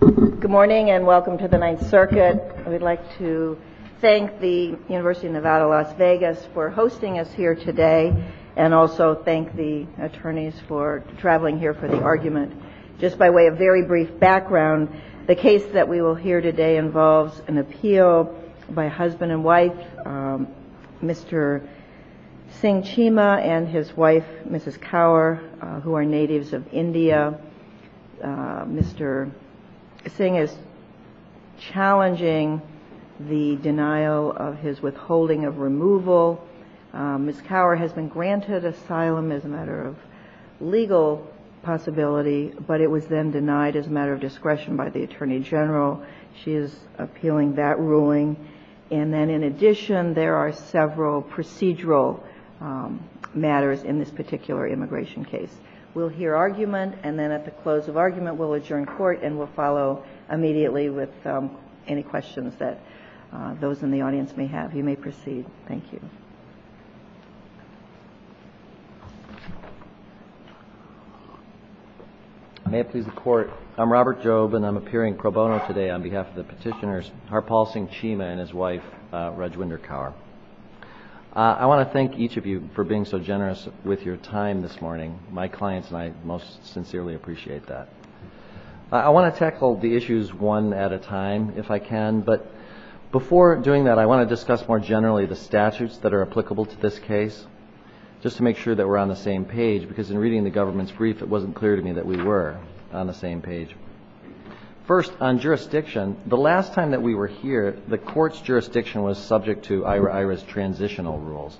Good morning, and welcome to the Ninth Circuit. I would like to thank the University of Nevada, Las Vegas, for hosting us here today, and also thank the attorneys for traveling here for the argument. Just by way of very brief background, the case that we will hear today involves an appeal by husband and wife, Mr. Singh Cheema and his wife, Mrs. Kaur, who Mr. Singh is challenging the denial of his withholding of removal. Mrs. Kaur has been granted asylum as a matter of legal possibility, but it was then denied as a matter of discretion by the Attorney General. She is appealing that ruling. And then, in addition, there are several procedural matters in this particular immigration case. We'll hear argument, and then at the close of argument, we'll adjourn court and we'll follow immediately with any questions that those in the audience may have. You may proceed. Thank you. Robert Jobe May it please the Court, I'm Robert Jobe, and I'm appearing pro bono today on behalf of the petitioners, Harpal Singh Cheema and his wife, Reg Winder Kaur. I want to thank each of you for being so generous with your time this morning. My clients and I most sincerely appreciate that. I want to tackle the issues one at a time if I can, but before doing that, I want to discuss more generally the statutes that are applicable to this case, just to make sure that we're on the same page, because in reading the government's brief, it wasn't clear to me that we were on the same page. First, on jurisdiction, the last time that we were here, the court's jurisdiction was subject to IHRA's transitional rules.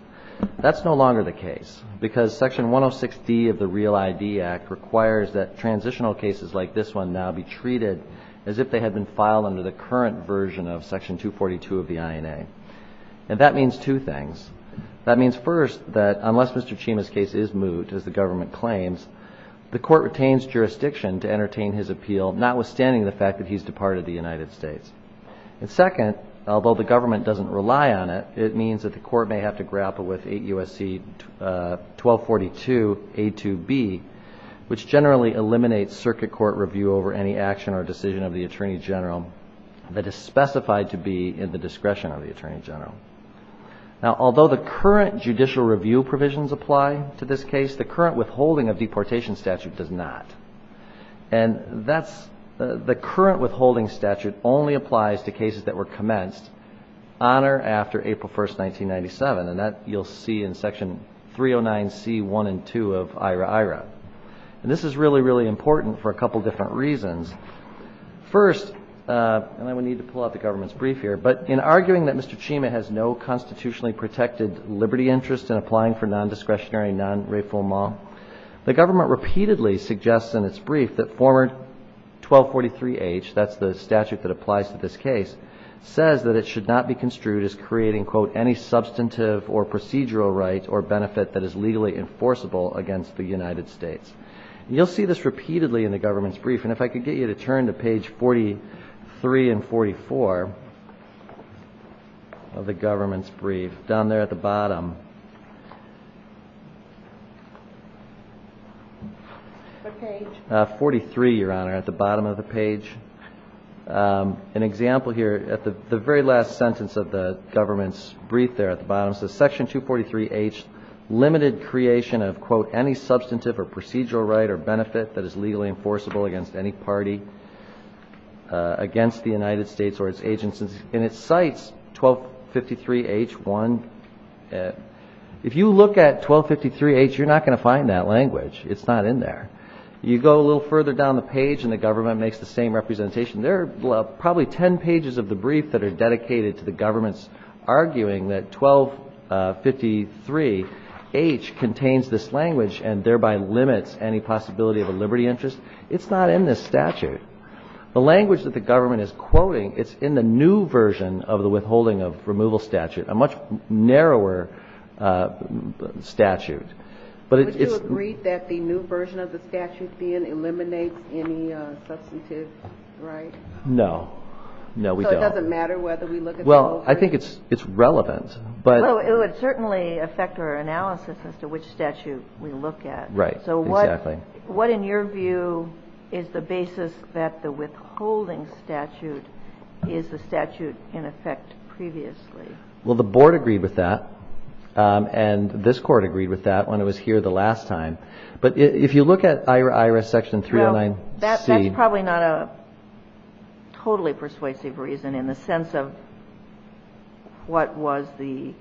That's no longer the case, because Section 106D of the REAL ID Act requires that transitional cases like this one now be treated as if they had been filed under the current version of Section 242 of the INA, and that means two things. That means, first, that unless Mr. Cheema's case is moved, as the government claims, the court retains jurisdiction to Second, although the government doesn't rely on it, it means that the court may have to grapple with 8 U.S.C. 1242A2B, which generally eliminates circuit court review over any action or decision of the Attorney General that is specified to be in the discretion of the Attorney General. Now, although the current judicial review provisions apply to this case, the current withholding of deportation statute does not, and the current withholding statute only applies to cases that were commenced on or after April 1, 1997, and that you'll see in Section 309C1 and 2 of IHRA-IHRA. And this is really, really important for a couple different reasons. First, and I would need to pull out the government's brief here, but in arguing that Mr. Cheema has no constitutionally protected liberty interest in applying for non-discretionary non-réforma, the government repeatedly suggests in its brief that former 1243H, that's the statute that applies to this case, says that it should not be construed as creating, quote, any substantive or procedural right or benefit that is legally enforceable against the United States. And you'll see this repeatedly in the government's brief, and if I could get you to turn to page 43 and 44 of the government's brief, down there at the bottom. What page? 43, Your Honor, at the bottom of the page. An example here, at the very last sentence of the government's brief there at the bottom, it says, Section 243H, limited creation of, quote, any substantive or procedural right or benefit that is legally enforceable against any party against the United States or its agents. And it cites 1253H1. If you look at 1253H, you're not going to find that language. It's not in there. You go a little further down the page and the government makes the same representation. There are probably ten pages of the brief that are dedicated to the government's arguing that 1253H contains this language and thereby limits any possibility of a liberty interest. It's not in this statute. The language that the government is quoting, it's in the new version of the Withholding Removal Statute, a much narrower statute. Would you agree that the new version of the statute then eliminates any substantive right? No. No, we don't. So it doesn't matter whether we look at the old version? Well, I think it's relevant, but... Well, it would certainly affect our analysis as to which statute we look at. Right. Exactly. What in your view is the basis that the Withholding Statute is the statute in effect previously? Well, the board agreed with that, and this court agreed with that when it was here the last time. But if you look at IRS Section 309C... Well, that's probably not a totally persuasive reason in the sense of what was the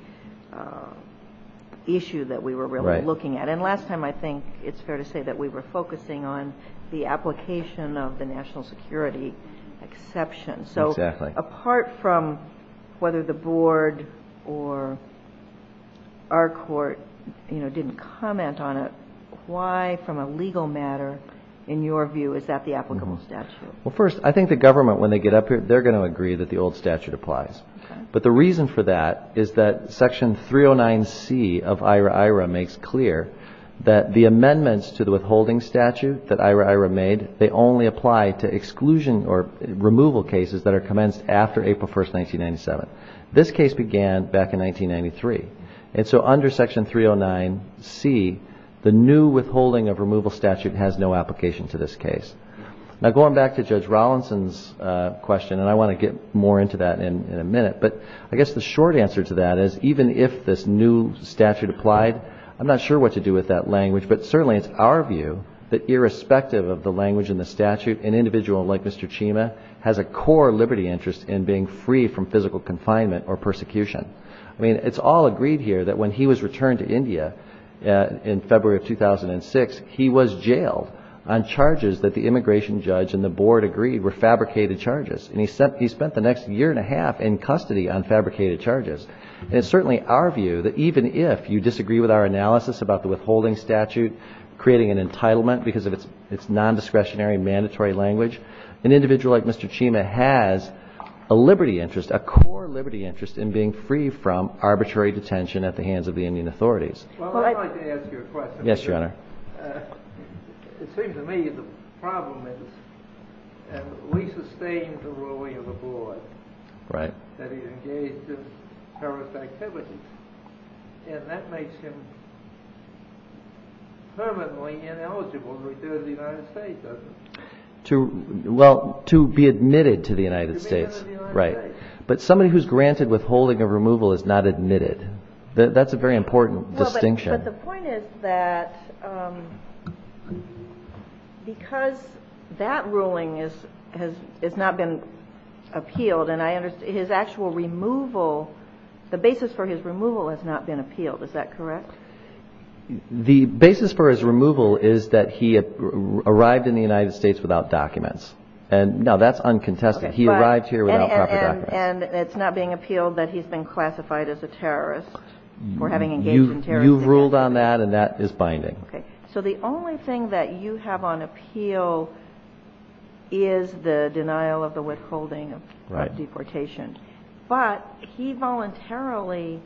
issue that we were really looking at. And last time, I think it's fair to say that we were focusing on the application of the national security exception. Exactly. Apart from whether the board or our court didn't comment on it, why from a legal matter, in your view, is that the applicable statute? Well, first, I think the government, when they get up here, they're going to agree that the old statute applies. But the reason for that is that Section 309C of IRA-IRA makes clear that the amendments to the Withholding Statute that IRA-IRA made, they only apply to exclusion or removal cases that are commenced after April 1st, 1997. This case began back in 1993. And so under Section 309C, the new Withholding of Removal Statute has no application to this case. Now, going back to Judge Rollinson's question, and I want to get more into that in a minute, but I guess the short answer to that is even if this new statute applied, I'm not sure what to do with that language. But certainly, it's our view that irrespective of the language in the statute, an individual like Mr. Chima has a core liberty interest in being free from physical confinement or persecution. I mean, it's all agreed here that when he was returned to India in February of 2006, he was jailed on charges that the immigration judge and the board agreed were fabricated charges. And he spent the next year and a half in custody on fabricated charges. And it's certainly our view that even if you disagree with our analysis about the Withholding Statute creating an entitlement because of its nondiscretionary mandatory language, an individual like Mr. Chima has a liberty interest, a core liberty interest in being free from arbitrary detention at the hands of the Indian authorities. Well, I'd like to ask you a question. Yes, Your Honor. It seems to me the problem is we sustain the ruling of the board that he engaged in terrorist activities. And that makes him permanently ineligible to return to the United States, doesn't it? Well, to be admitted to the United States, right. But somebody who's granted withholding of removal is not admitted. That's a very important distinction. But the point is that because that ruling has not been appealed and his actual removal, the basis for his removal has not been appealed. Is that correct? The basis for his removal is that he arrived in the United States without documents. And no, that's uncontested. He arrived here without proper documents. And it's not being appealed that he's been classified as a terrorist for having engaged in terrorist activities. You've ruled on that and that is binding. Okay. So the only thing that you have on appeal is the denial of the withholding of deportation. But he voluntarily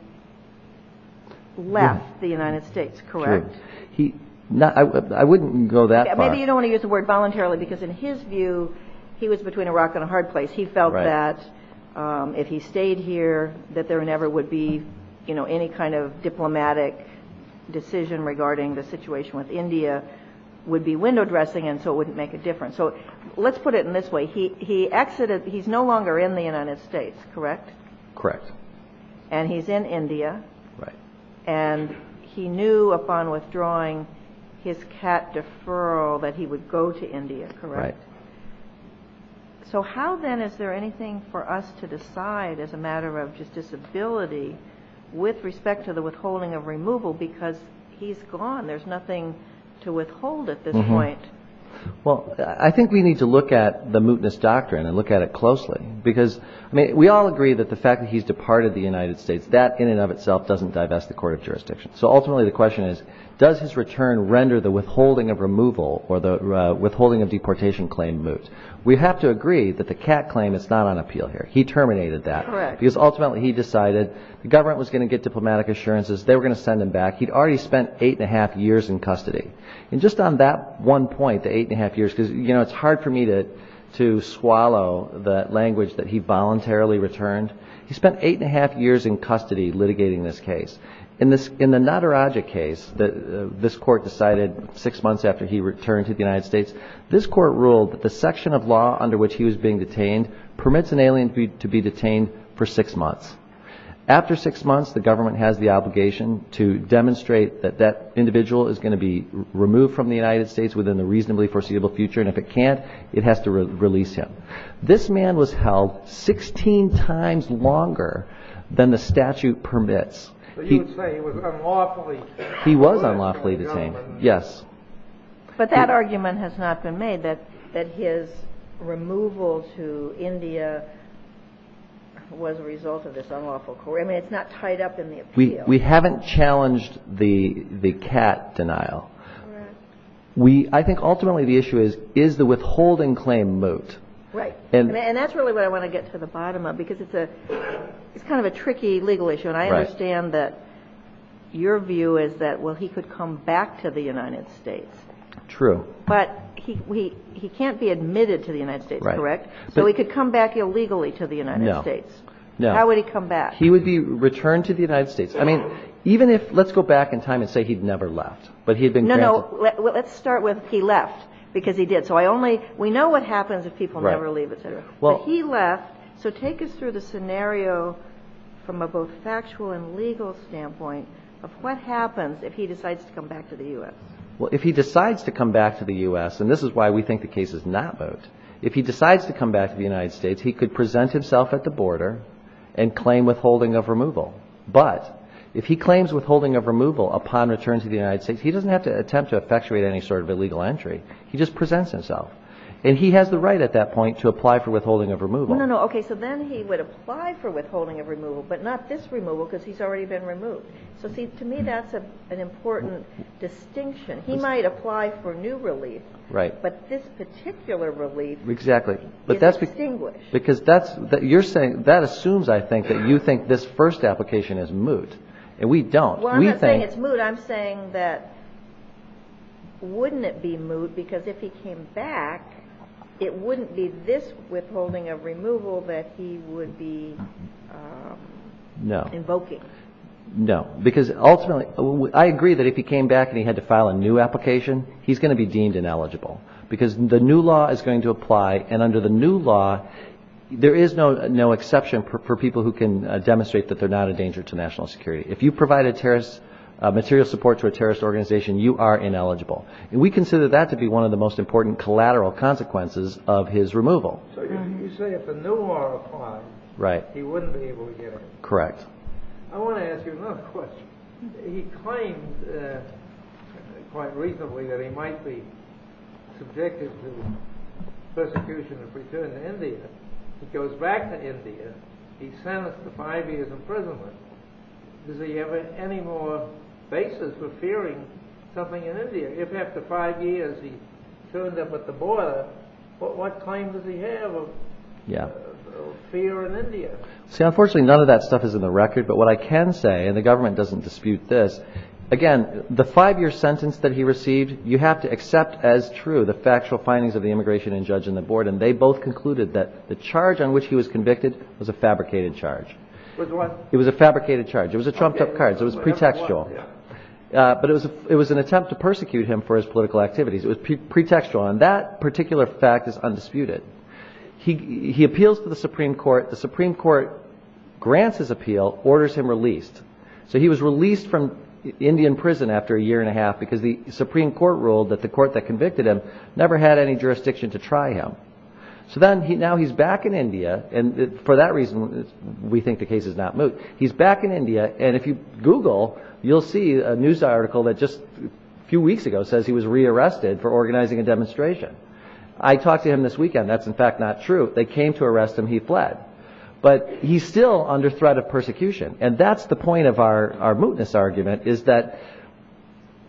left the United States, correct? I wouldn't go that far. Maybe you don't want to use the word voluntarily because in his view, he was between a rock and a hard place. He felt that if he stayed here, that there never would be any kind of diplomatic decision regarding the situation with India would be window dressing and so it wouldn't make a difference. Let's put it in this way. He's no longer in the United States, correct? Correct. And he's in India. Right. And he knew upon withdrawing his CAT deferral that he would go to India, correct? Right. So how then is there anything for us to decide as a matter of just disability with respect to the withholding of removal because he's gone. There's nothing to withhold at this point. Well, I think we need to look at the mootness doctrine and look at it closely because we all agree that the fact that he's departed the United States, that in and of itself doesn't divest the court of jurisdiction. So ultimately the question is, does his return render the withholding of removal or the withholding of deportation claim moot? We have to agree that the CAT claim is not on appeal here. He terminated that. Correct. Because ultimately he decided the government was going to get diplomatic assurances. They were going to send him back. He'd already spent eight and a half years in custody. And just on that one point, the eight and a half years, because it's hard for me to swallow that language that he voluntarily returned. He spent eight and a half years in custody litigating this case. In the Nadarajah case that this court decided six months after he returned to the United States, this court ruled that the section of law under which he was being detained permits an alien to be detained for six months. After six months, the government has the obligation to demonstrate that that individual is going to be removed from the United States within the reasonably foreseeable future. And if it can't, it has to release him. This man was held 16 times longer than the statute permits. So you would say he was unlawfully detained? He was unlawfully detained, yes. But that argument has not been made, that his removal to India was a result of this unlawful court. I mean, it's not tied up in the appeal. We haven't challenged the CAT denial. I think ultimately the issue is, is the withholding claim moot? Right. And that's really what I want to get to the bottom of, because it's kind of a tricky legal issue. And I understand that your view is that, well, he could come back to the United States. True. But he can't be admitted to the United States, correct? So he could come back illegally to the United States. No. How would he come back? He would be returned to the United States. I mean, even if, let's go back in time and say he'd never left, but he had been granted. No, no. Let's start with he left, because he did. So I only, we know what happens if people never leave, et cetera. Right. But he left. So take us through the scenario from a both factual and legal standpoint of what happens if he decides to come back to the U.S.? Well, if he decides to come back to the U.S., and this is why we think the case is not vote, if he decides to come back to the United States, he could present himself at the border and claim withholding of removal. But if he claims withholding of removal upon return to the United States, he doesn't have to attempt to effectuate any sort of illegal entry. He just presents himself. And he has the right at that point to apply for withholding of removal. No, no, no. Okay. So then he would apply for withholding of removal, but not this removal, because he's already been removed. So see, to me, that's an important distinction. He might apply for new relief. Right. But this particular relief is distinguished. Because that assumes, I think, that you think this first application is moot. And we don't. Well, I'm not saying it's moot. I'm saying that wouldn't it be moot? Because if he came back, it wouldn't be this withholding of removal that he would be invoking. No. No. Because ultimately, I agree that if he came back and he had to file a new application, he's going to be deemed ineligible. Because the new law is going to apply, and under the new law, there is no exception for people who can demonstrate that they're not a danger to national security. If you provide a terrorist, material support to a terrorist organization, you are ineligible. And we consider that to be one of the most important collateral consequences of his removal. So you say if the new law applies, he wouldn't be able to get it. Correct. I want to ask you another question. He claimed quite reasonably that he might be subjected to persecution if he returned to India. He goes back to India. He's sentenced to five years imprisonment. Does he have any more basis for fearing something in India? If after five years he turned up at the border, what claim does he have of fear in India? Unfortunately, none of that stuff is in the record. But what I can say, and the government doesn't dispute this, again, the five-year sentence that he received, you have to accept as true the factual findings of the immigration judge and the board, and they both concluded that the charge on which he was convicted was a fabricated charge. It was what? It was a fabricated charge. It was a trumped-up card. It was pretextual. But it was an attempt to persecute him for his political activities. It was pretextual. And that particular fact is undisputed. He appeals to the Supreme Court. The Supreme Court grants his appeal, orders him released. So he was released from Indian prison after a year and a half because the government never had any jurisdiction to try him. So now he's back in India. And for that reason, we think the case is not moot. He's back in India. And if you Google, you'll see a news article that just a few weeks ago says he was re-arrested for organizing a demonstration. I talked to him this weekend. That's in fact not true. They came to arrest him. He fled. But he's still under threat of persecution. And that's the point of our mootness argument, is that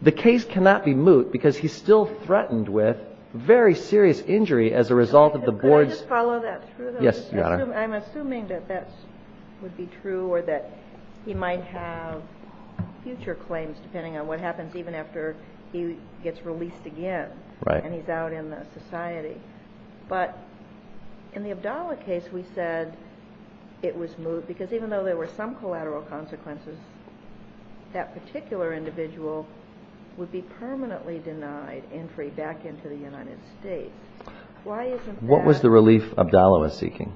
the case cannot be moot because he's still threatened with very serious injury as a result of the board's... Could I just follow that through, though? Yes, Your Honor. I'm assuming that that would be true or that he might have future claims depending on what happens even after he gets released again and he's out in the society. But in the Abdallah case, we said it was moot because even though there were some collateral consequences, that particular individual would be permanently denied entry back into the United States. Why isn't that... What was the relief Abdallah was seeking?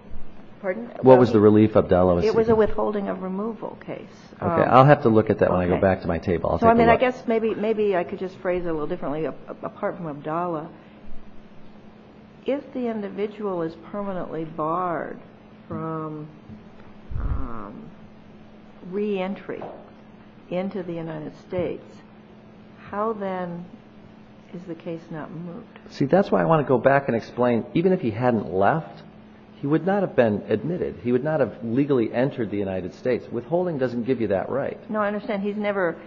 Pardon? What was the relief Abdallah was seeking? It was a withholding of removal case. Okay. I'll have to look at that when I go back to my table. I'll take a look. I guess maybe I could just phrase it a little differently apart from Abdallah. If the individual is permanently barred from re-entry into the United States, how then is the case not moot? See, that's why I want to go back and explain, even if he hadn't left, he would not have been admitted. He would not have legally entered the United States. Withholding doesn't give you that right. No, I understand. He's never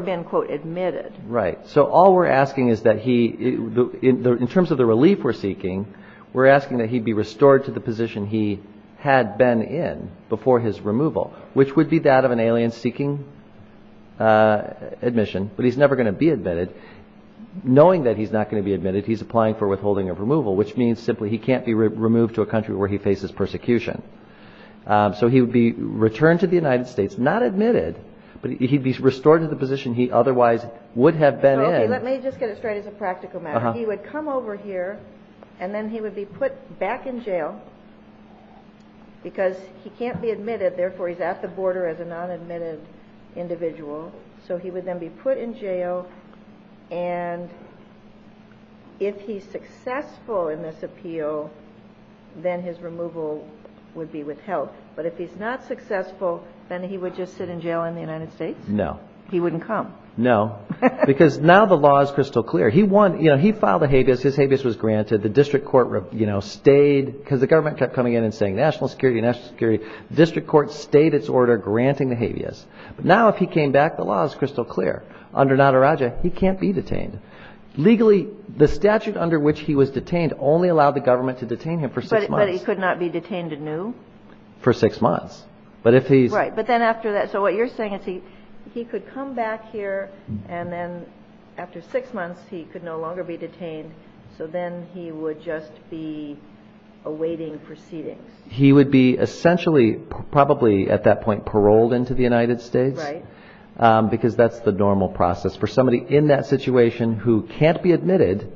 been, quote, admitted. Right. So all we're asking is that he, in terms of the relief we're seeking, we're asking that he'd be restored to the position he had been in before his removal, which would be that of an alien seeking admission, but he's never going to be admitted. Knowing that he's not going to be admitted, he's applying for withholding of removal, which means simply he can't be removed to a country where he faces persecution. So he would be returned to the United States, not admitted, but he'd be restored to the position he otherwise would have been in. Okay, let me just get it straight as a practical matter. He would come over here, and then he would be put back in jail because he can't be admitted, therefore he's at the border as a non-admitted individual. So he would then be put in jail, and if he's successful in this appeal, then his removal would be withheld. But if he's not successful, then he would just sit in jail in the United States? No. He wouldn't come? No, because now the law is crystal clear. He filed a habeas, his habeas was granted, the district court stayed, because the government kept coming in and saying national security, national security, the district court stayed its order granting the habeas. But now if he came back, the law is crystal clear. Under Nadarajah, he can't be detained. Legally, the statute under which he was detained only allowed the government to detain him for six months. But he could not be detained anew? For six months. Right, but then after that, so what you're saying is he could come back here, and then after six months, he could no longer be detained, so then he would just be awaiting proceedings? He would be essentially, probably at that point, paroled into the United States, because that's the normal process for somebody in that situation who can't be admitted,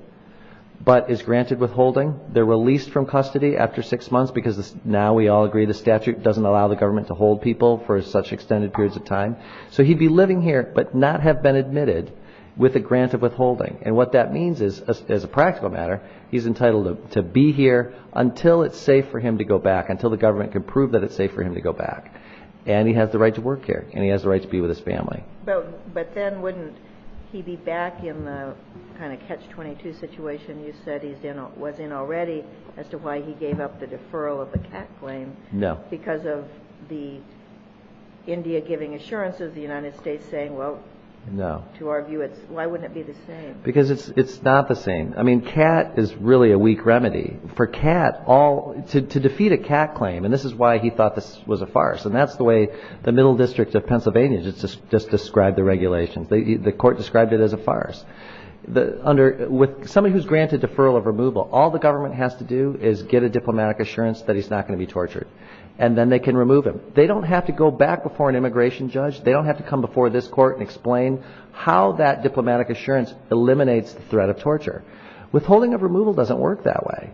but is granted withholding. They're released from custody after six months, because now we all agree the statute doesn't allow the government to hold people for such extended periods of time. So he'd be living here, but not have been admitted with a grant of withholding. And what that means is, as a practical matter, he's entitled to be here until it's safe for him to go back, until the government can prove that it's safe for him to go back. And he has the right to work here, and he has the right to be with his family. But then wouldn't he be back in the kind of catch-22 situation you said he was in already, as to why he gave up the deferral of the Catt claim? No. Because of the India giving assurance of the United States saying, well, to argue it's, why wouldn't it be the same? Because it's not the same. I mean, Catt is really a weak remedy. For Catt, to defeat a Catt claim, and this is why he thought this was a farce, and that's the way the middle district of Pennsylvania just described the regulations. The court described it as a farce. With somebody who's granted deferral of removal, all the government has to do is get a diplomatic assurance that he's not going to be tortured, and then they can remove him. They don't have to go back before an immigration judge. They don't have to come before this court and explain how that diplomatic assurance eliminates the threat of torture. Withholding of removal doesn't work that way.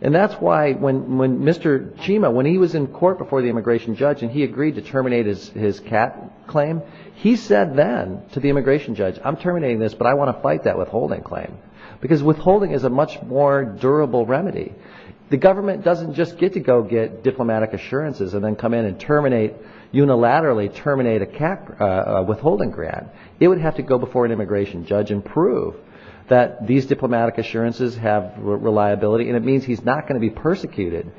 And that's why when Mr. Chima, when he was immigration judge and he agreed to terminate his Catt claim, he said then to the immigration judge, I'm terminating this, but I want to fight that withholding claim. Because withholding is a much more durable remedy. The government doesn't just get to go get diplomatic assurances and then come in and terminate, unilaterally terminate a Catt withholding grant. It would have to go before an immigration judge and prove that these diplomatic assurances have reliability, and it means he's not going to be persecuted.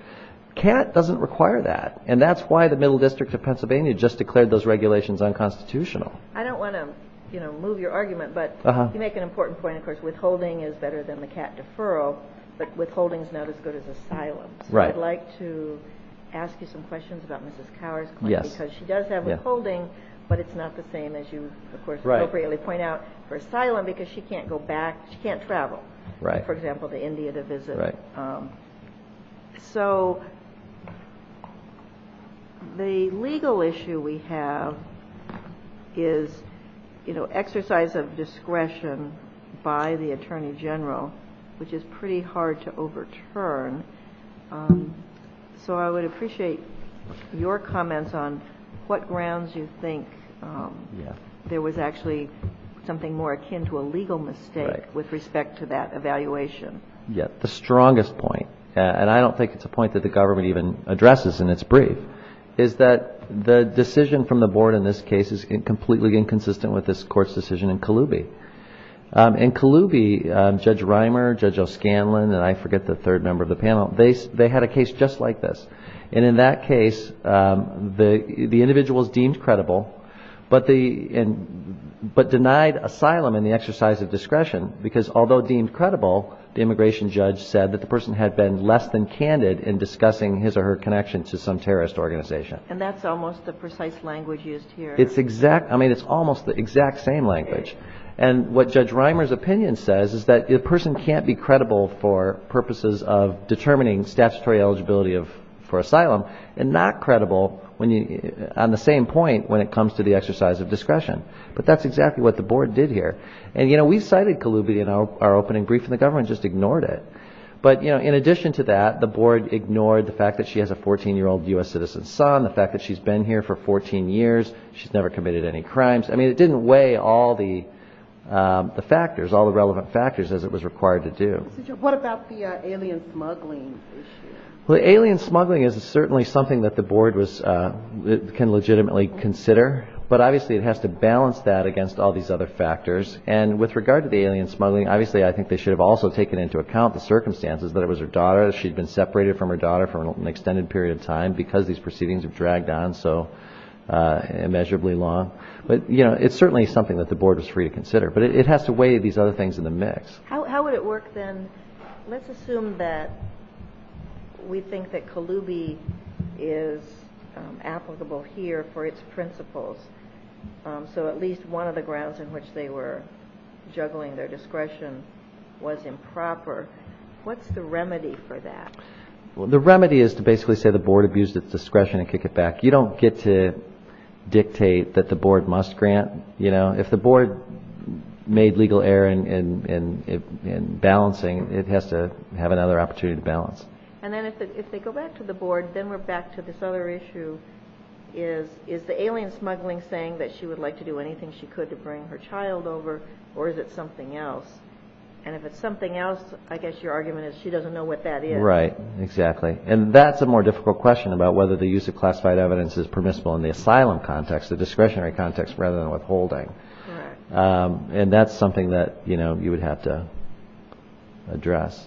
Catt doesn't require that, and that's why the Middle District of Pennsylvania just declared those regulations unconstitutional. I don't want to move your argument, but you make an important point, of course, withholding is better than the Catt deferral, but withholding is not as good as asylum. Right. So I'd like to ask you some questions about Mrs. Cower's claim. Yes. Because she does have withholding, but it's not the same as you, of course, appropriately point out for asylum, because she can't go back, she can't travel. Right. For example, to India to visit. Right. So the legal issue we have is, you know, exercise of discretion by the Attorney General, which is pretty hard to overturn. So I would appreciate your comments on what grounds you think there was actually something more akin to a legal mistake with respect to that evaluation. Yes. The strongest point, and I don't think it's a point that the government even addresses in its brief, is that the decision from the Board in this case is completely inconsistent with this Court's decision in Kaloubi. In Kaloubi, Judge Reimer, Judge O'Scanlan, and I forget the third member of the panel, they had a case just like this. And in that case, the individuals deemed credible, but denied asylum in the exercise of discretion, because although deemed credible, the immigration judge said that the person had been less than candid in discussing his or her connection to some terrorist organization. And that's almost the precise language used here. It's exact. I mean, it's almost the exact same language. And what Judge Reimer's opinion says is that a person can't be credible for purposes of determining statutory eligibility for asylum, and not credible on the same point when it comes to the exercise of discretion. But that's exactly what the Board did here. And we cited Kaloubi in our opening brief, and the government just ignored it. But in addition to that, the Board ignored the fact that she has a 14-year-old U.S. citizen's son, the fact that she's been here for 14 years, she's never committed any crimes. I mean, it didn't weigh all the factors, all the relevant factors, as it was required to do. What about the alien smuggling issue? Well, the alien smuggling is certainly something that the Board can legitimately consider, but obviously it has to balance that against all these other factors. And with regard to the alien smuggling, obviously I think they should have also taken into account the circumstances that it was her daughter, that she'd been separated from her daughter for an extended period of time because these proceedings have dragged on so immeasurably long. But, you know, it's certainly something that the Board was free to consider. But it has to weigh these other things in the mix. How would it work, then, let's assume that we think that Kalubi is applicable here for its principles, so at least one of the grounds on which they were juggling their discretion was improper. What's the remedy for that? Well, the remedy is to basically say the Board abused its discretion and kick it back. You don't get to dictate that the Board must grant, you know. If the Board made legal error in balancing, it has to have another opportunity to balance. And then if they go back to the Board, then we're back to this other issue. Is the alien smuggling saying that she would like to do anything she could to bring her child over, or is it something else? And if it's something else, I guess your argument is she doesn't know what that is. Right, exactly. And that's a more difficult question about whether the use of classified evidence is permissible in the asylum context, the discretionary context, rather than withholding. And that's something that, you know, you would have to address.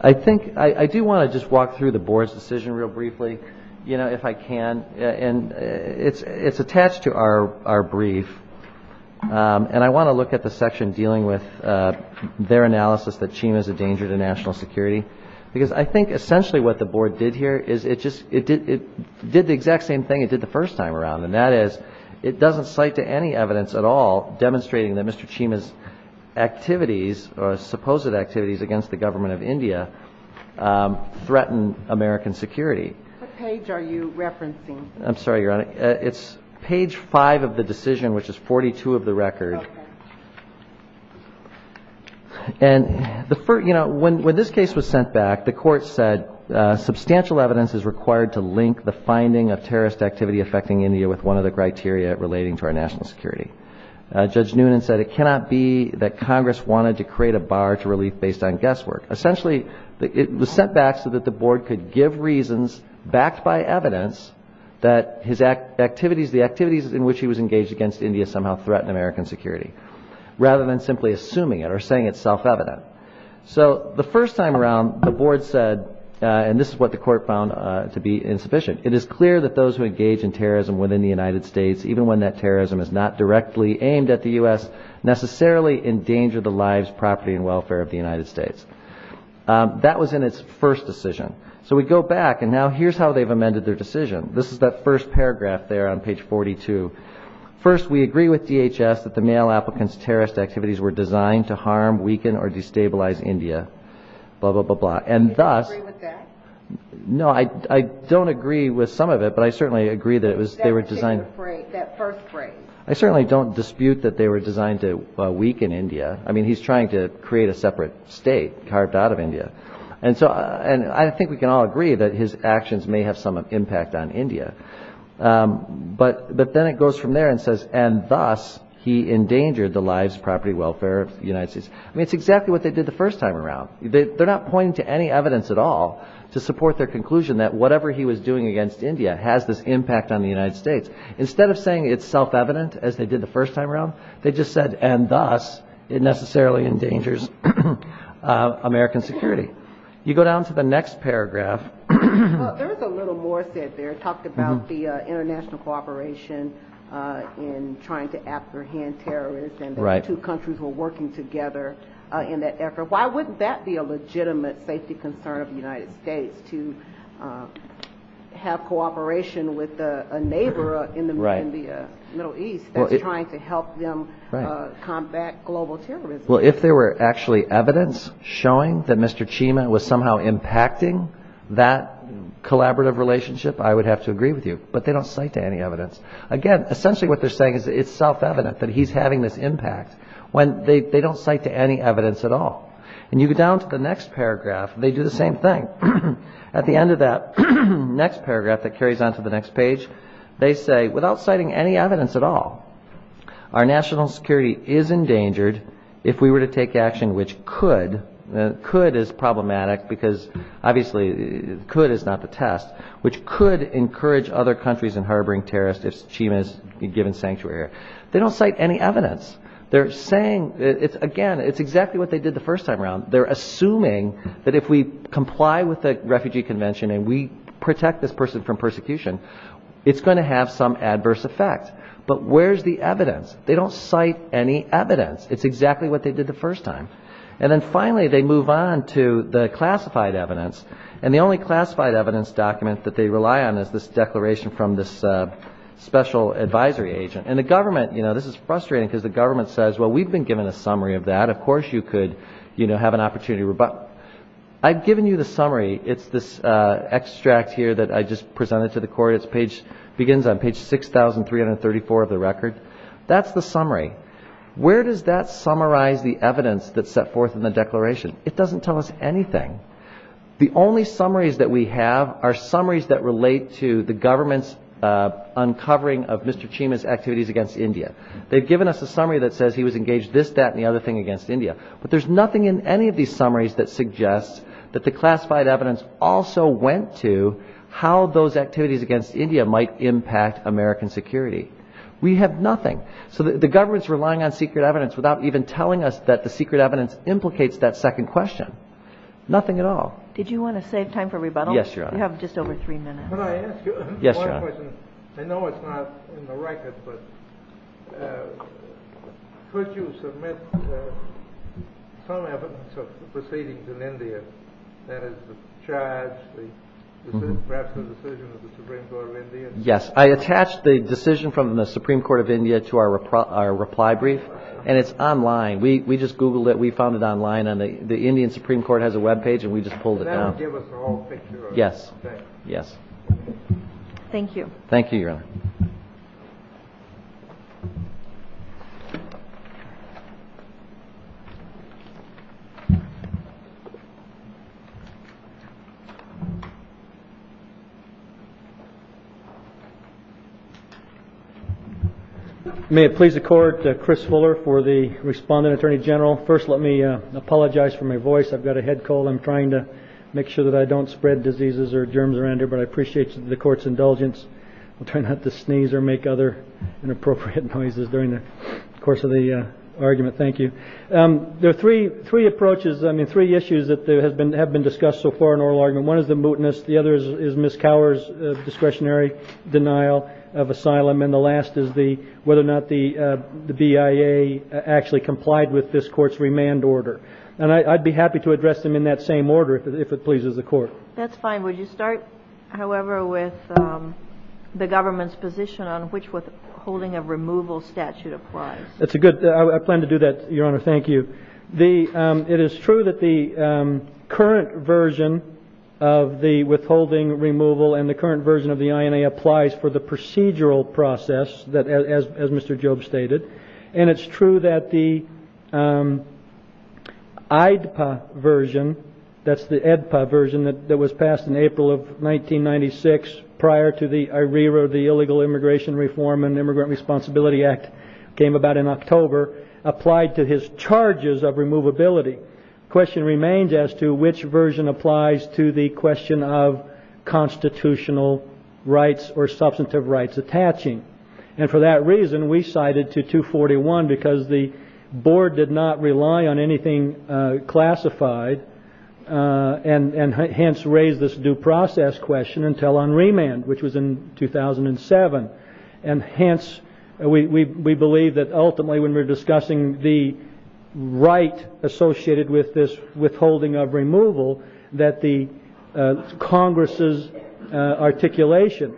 I think, I do want to just walk through the Board's decision real briefly, you know, if I can. And it's attached to our brief, and I want to look at the section dealing with their analysis that Chima is a danger to national security. Because I think essentially what the Board did here is it just, it did the exact same thing it did the first time around. And that is, it doesn't cite to any evidence at all demonstrating that Mr. Chima's activities, or supposed activities against the government of India, threatened American security. What page are you referencing? I'm sorry, Your Honor. It's page 5 of the decision, which is 42 of the record. Okay. And, you know, when this case was sent back, the Court said substantial evidence is required to link the finding of terrorist activity affecting India with one of the criteria relating to our national security. Judge Noonan said it cannot be that Congress wanted to create a bar to relief based on guesswork. Essentially, it was sent back so that the Board could give reasons, backed by evidence, that the activities in which he was engaged against India somehow threatened American security. Rather than simply assuming it or saying it's self-evident. So the first time around, the Board said, and this is what the Court found to be insufficient, it is clear that those who engage in terrorism within the United States, even when that terrorism is not directly aimed at the U.S., necessarily endanger the lives, property, and welfare of the United States. That was in its first decision. So we go back, and now here's how they've amended their decision. This is that first paragraph there on page 42. First, we agree with DHS that the male applicants' terrorist activities were designed to harm, weaken, or destabilize India. Blah, blah, blah, blah. And thus... Do you agree with that? No, I don't agree with some of it, but I certainly agree that it was... That particular phrase, that first phrase. I certainly don't dispute that they were designed to weaken India. I mean, he's trying to create a separate state carved out of India. And so, I think we can all agree that his actions may have some impact on India. But then it goes from there and says, and thus, he endangered the lives, property, welfare of the United States. I mean, it's exactly what they did the first time around. They're not pointing to any evidence at all to support their conclusion that whatever he was doing against India has this impact on the United States. Instead of saying it's self-evident, as they did the first time around, they just said, and thus, it necessarily endangers American security. You go down to the next paragraph. There's a little more said there. It talked about the international cooperation in trying to apprehend terrorists. And those two countries were working together in that effort. Why wouldn't that be a legitimate safety concern of the United States, to have cooperation with a neighbor in the Middle East that's trying to help them combat global terrorism? Well, if there were actually evidence showing that Mr. Chima was somehow impacting that collaborative relationship, I would have to agree with you. But they don't cite to any evidence. Again, essentially what they're saying is it's self-evident that he's having this impact when they don't cite to any evidence at all. And you go down to the next paragraph. They do the same thing. At the end of that next paragraph that carries on to the next page, they say, without citing any evidence at all, our national security is endangered if we were to take action which could, could is problematic because obviously could is not the test, which could encourage other countries in harboring terrorists if Chima is given sanctuary. They don't cite any evidence. They're saying, again, it's exactly what they did the first time around. They're assuming that if we comply with the Refugee Convention and we protect this person from persecution, it's going to have some adverse effect. But where's the evidence? They don't cite any evidence. It's exactly what they did the first time. And then finally they move on to the classified evidence. And the only classified evidence document that they rely on is this declaration from this special advisory agent. And the government, you know, this is frustrating because the government says, well, we've been given a summary of that. Of course you could, you know, have an opportunity to rebut. I've given you the summary. It's this extract here that I just presented to the court. It begins on page 6,334 of the record. That's the summary. Where does that summarize the evidence that's set forth in the declaration? It doesn't tell us anything. The only summaries that we have are summaries that relate to the government's uncovering of Mr. Chima's activities against India. They've given us a summary that says he was engaged this, that, and the other thing against India. But there's nothing in any of these summaries that suggests that the classified evidence also went to how those activities against India might impact American security. We have nothing. So the government's relying on secret evidence without even telling us that the secret evidence implicates that second question. Nothing at all. Did you want to save time for rebuttal? Yes, Your Honor. We have just over three minutes. Yes, Your Honor. Yes, I attached the decision from the Supreme Court of India to our reply brief, and it's online. We just Googled it. We found it online. The Indian Supreme Court has a webpage, and we just pulled it down. Yes. Yes. Thank you. Thank you, Your Honor. May it please the Court, Chris Fuller for the respondent, Attorney General. First, let me apologize for my voice. I've got a head cold. I'm trying to make sure that I don't spread diseases or germs around here, but I appreciate the Court's indulgence. I'll try not to sneeze or make other inappropriate noises during the course of the argument. Thank you. There are three approaches, I mean, three issues that have been discussed so far in oral argument. One is the mootness. The other is Ms. Cower's discretionary denial of asylum. And the last is whether or not the BIA actually complied with this Court's remand order. And I'd be happy to address them in that same order if it pleases the Court. That's fine. Would you start, however, with the government's position on which withholding of removal statute applies? That's a good – I plan to do that, Your Honor. Thank you. It is true that the current version of the withholding removal and the current version of the INA applies for the procedural process, as Mr. Jobe stated. And it's true that the IDPA version, that's the EDPA version that was passed in April of 1996 prior to the – I rewrote the Illegal Immigration Reform and Immigrant Responsibility Act, came about in October, applied to his charges of removability. The question remains as to which version applies to the question of constitutional rights or substantive rights attaching. And for that reason, we cited to 241 because the Board did not rely on anything classified, and hence raised this due process question until on remand, which was in 2007. And hence, we believe that ultimately when we're discussing the right associated with this withholding of removal, that the Congress' articulation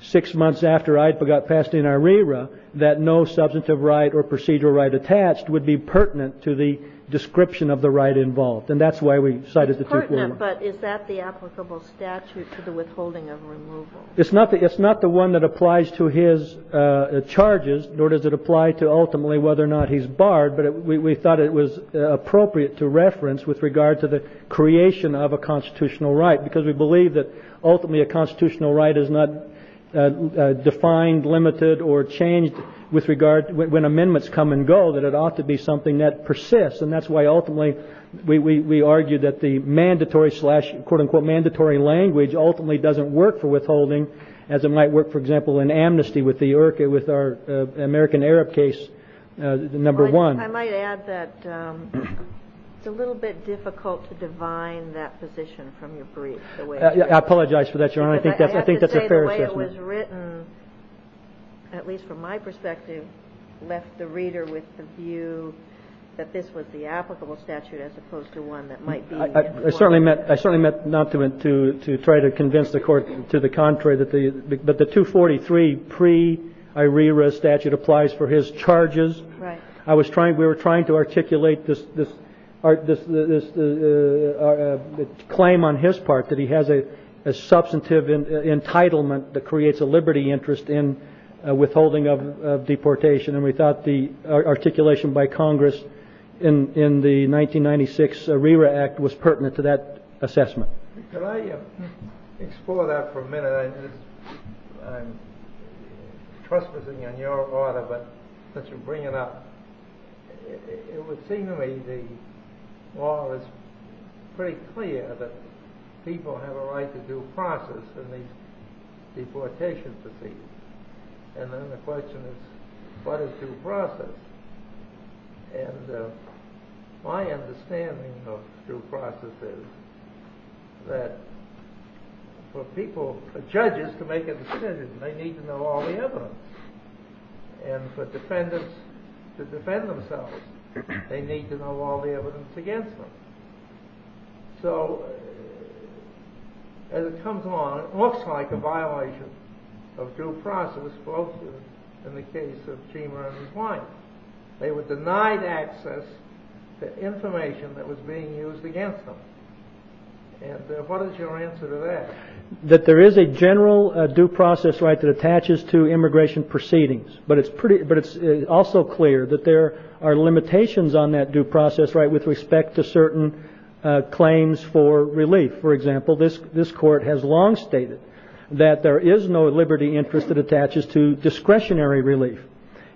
six months after IDPA got passed in ARERA, that no substantive right or procedural right attached would be pertinent to the description of the right involved. And that's why we cited the 241. It's pertinent, but is that the applicable statute to the withholding of removal? It's not the one that applies to his charges, nor does it apply to ultimately whether or not he's barred, but we thought it was appropriate to reference with regard to the creation of a constitutional right because we believe that ultimately a constitutional right is not defined, limited, or changed with regard – when amendments come and go, that it ought to be something that persists. And that's why ultimately we argue that the mandatory slash quote-unquote mandatory language ultimately doesn't work for withholding, as it might work, for example, in amnesty with our American Arab case number one. I might add that it's a little bit difficult to divine that position from your brief. I apologize for that, Your Honor. I think that's a fair assessment. I have to say the way it was written, at least from my perspective, left the reader with the view that this was the applicable statute as opposed to one that might be. I certainly meant not to try to convince the Court to the contrary, but the 243 pre-ARERA statute applies for his charges. Right. We were trying to articulate this claim on his part that he has a substantive entitlement that creates a liberty interest in withholding of deportation, and we thought the articulation by Congress in the 1996 ARERA Act was pertinent to that assessment. I'm trespassing on your order, but since you bring it up, it would seem to me the law is pretty clear that people have a right to due process in these deportation proceedings. And then the question is, what is due process? And my understanding of due process is that for people, for judges to make a decision, they need to know all the evidence. And for defendants to defend themselves, they need to know all the evidence against them. So as it comes along, it looks like a violation of due process, both in the case of Chima and his wife. They were denied access to information that was being used against them. And what is your answer to that? That there is a general due process right that attaches to immigration proceedings, but it's also clear that there are limitations on that due process right with respect to certain claims for relief. For example, this Court has long stated that there is no liberty interest that attaches to discretionary relief,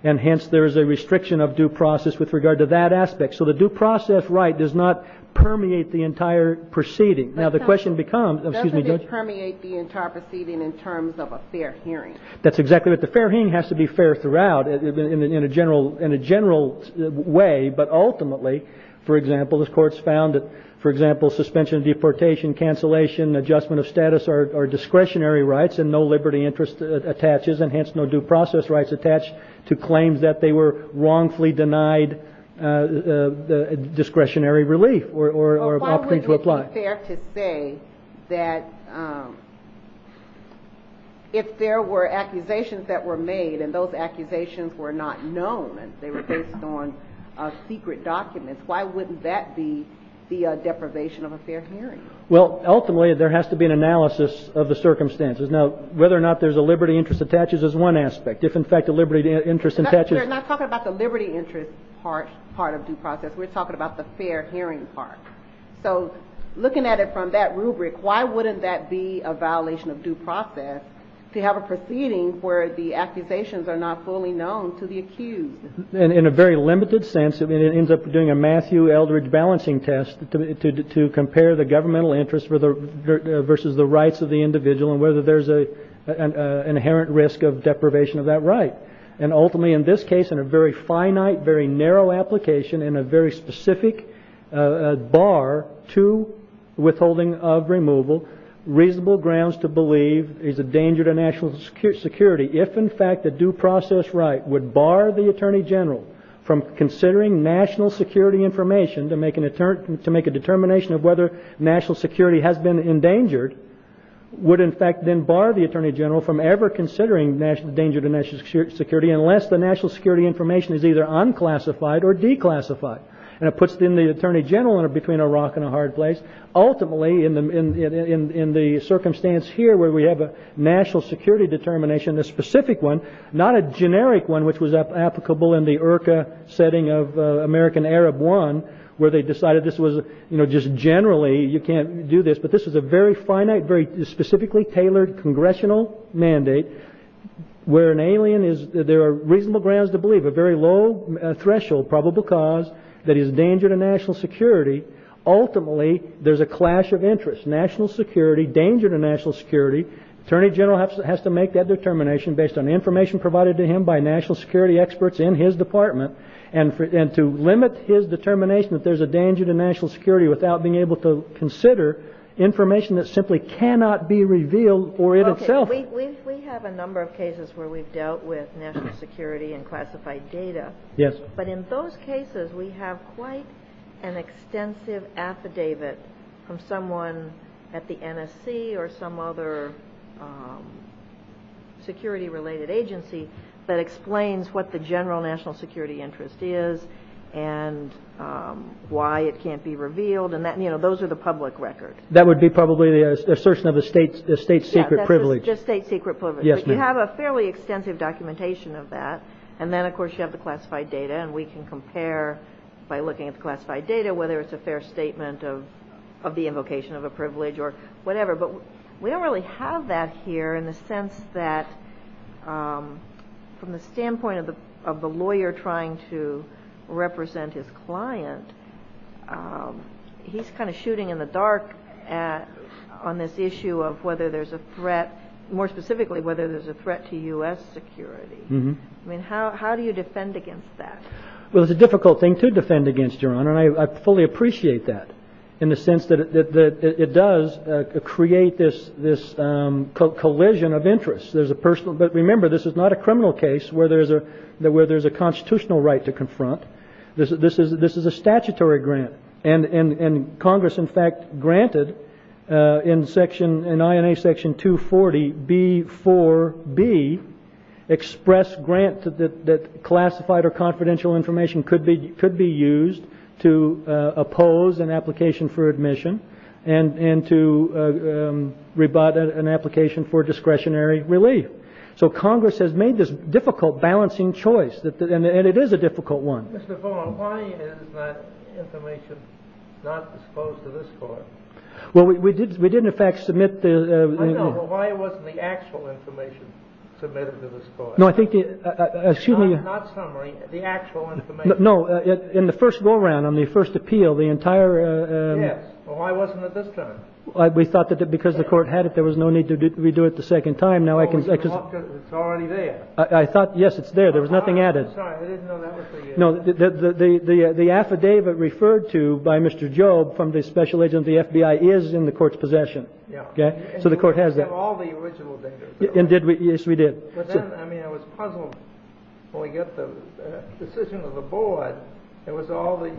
and hence there is a restriction of due process with regard to that aspect. So the due process right does not permeate the entire proceeding. Now, the question becomes, excuse me, Judge? Doesn't it permeate the entire proceeding in terms of a fair hearing? That's exactly right. The fair hearing has to be fair throughout in a general way, but ultimately, for example, this Court's found that, for example, suspension of deportation, cancellation, adjustment of status are discretionary rights and no liberty interest attaches, and hence no due process rights attach to claims that they were wrongfully denied discretionary relief or opportunity to apply. So is it fair to say that if there were accusations that were made, and those accusations were not known and they were based on secret documents, why wouldn't that be the deprivation of a fair hearing? Well, ultimately, there has to be an analysis of the circumstances. Now, whether or not there's a liberty interest attaches is one aspect. If, in fact, a liberty interest attaches – We're not talking about the liberty interest part of due process. We're talking about the fair hearing part. So looking at it from that rubric, why wouldn't that be a violation of due process to have a proceeding where the accusations are not fully known to the accused? In a very limited sense, it ends up doing a Matthew Eldredge balancing test to compare the governmental interest versus the rights of the individual and whether there's an inherent risk of deprivation of that right. And ultimately, in this case, in a very finite, very narrow application and a very specific bar to withholding of removal, reasonable grounds to believe is a danger to national security. If, in fact, the due process right would bar the attorney general from considering national security information to make a determination of whether national security has been endangered, would, in fact, then bar the attorney general from ever considering the danger to national security unless the national security information is either unclassified or declassified. And it puts, then, the attorney general between a rock and a hard place. Ultimately, in the circumstance here where we have a national security determination, a specific one, not a generic one which was applicable in the IRCA setting of American Arab I, where they decided this was just generally, you can't do this, but this is a very finite, very specifically tailored congressional mandate where an alien is, there are reasonable grounds to believe, a very low threshold probable cause that is a danger to national security. Ultimately, there's a clash of interests, national security, danger to national security. Attorney general has to make that determination based on information provided to him by national security experts in his department. And to limit his determination that there's a danger to national security without being able to consider information that simply cannot be revealed or in itself. We have a number of cases where we've dealt with national security and classified data. Yes. But in those cases, we have quite an extensive affidavit from someone at the NSC or some other security-related agency that explains what the general national security interest is and why it can't be revealed. And those are the public records. That would be probably the assertion of a state secret privilege. Yes, just state secret privilege. Yes, ma'am. But you have a fairly extensive documentation of that. And then, of course, you have the classified data. And we can compare by looking at the classified data, whether it's a fair statement of the invocation of a privilege or whatever. But we don't really have that here in the sense that from the standpoint of the lawyer trying to represent his client, he's kind of shooting in the dark on this issue of whether there's a threat, more specifically whether there's a threat to U.S. security. I mean, how do you defend against that? Well, it's a difficult thing to defend against, Your Honor, and I fully appreciate that in the sense that it does create this collision of interests. But remember, this is not a criminal case where there's a constitutional right to confront. This is a statutory grant. And Congress, in fact, granted in INA Section 240B4B, express grant that classified or confidential information could be used to oppose an application for admission and to rebut an application for discretionary relief. So Congress has made this difficult balancing choice, and it is a difficult one. Mr. Vaughan, why is that information not disclosed to this Court? Well, we didn't, in fact, submit the – I know, but why wasn't the actual information submitted to this Court? No, I think – Not summary, the actual information. No, in the first go-around, on the first appeal, the entire – Yes, but why wasn't it this time? We thought that because the Court had it, there was no need to redo it the second time. Now I can – It's already there. I thought, yes, it's there. There was nothing added. I'm sorry. I didn't know that was the – No, the affidavit referred to by Mr. Job from the special agent of the FBI is in the Court's possession. Yeah. Okay? So the Court has that. And you didn't get all the original data, did you? Yes, we did. But then, I mean, I was puzzled when we got the decision of the board. It was all these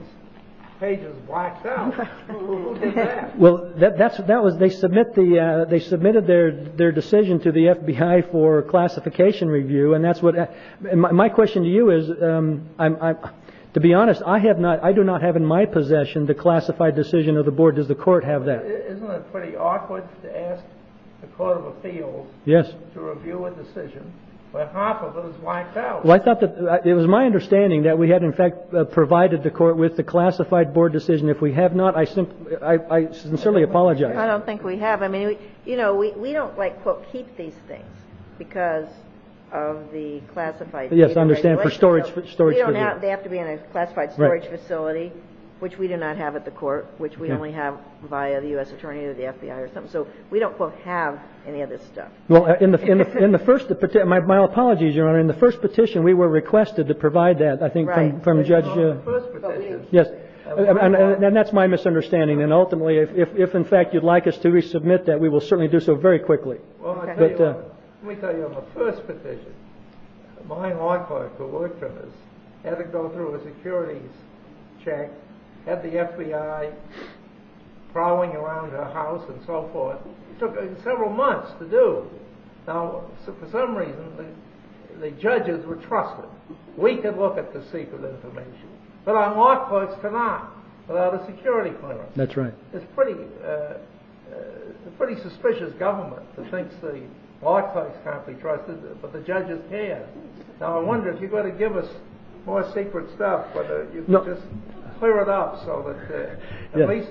pages blacked out. Who did that? Well, that was – They submitted their decision to the FBI for classification review, and that's what – My question to you is, to be honest, I have not – I do not have in my possession the classified decision of the board. Does the Court have that? Isn't it pretty awkward to ask the Court of Appeals to review a decision where half of it is blacked out? Well, I thought that – It was my understanding that we had, in fact, provided the Court with the classified board decision. If we have not, I sincerely apologize. I don't think we have. I mean, you know, we don't, like, quote, keep these things because of the classified data. Yes, I understand. For storage – We don't have – They have to be in a classified storage facility, which we do not have at the Court, which we only have via the U.S. Attorney or the FBI or something. So we don't, quote, have any of this stuff. Well, in the first – my apologies, Your Honor. In the first petition, we were requested to provide that, I think, from Judge – Right. In the first petition. Yes. And that's my misunderstanding. And ultimately, if, in fact, you'd like us to resubmit that, we will certainly do so very quickly. Okay. Let me tell you, on the first petition, my law clerk, who worked with us, had to go through a securities check, had the FBI prowling around her house and so forth. It took several months to do. Now, for some reason, the judges were trusted. We could look at the secret information. But our law clerks could not without a security clearance. That's right. It's a pretty suspicious government that thinks the law clerks can't be trusted, but the judges can. Now, I wonder if you're going to give us more secret stuff, whether you could just clear it up so that at least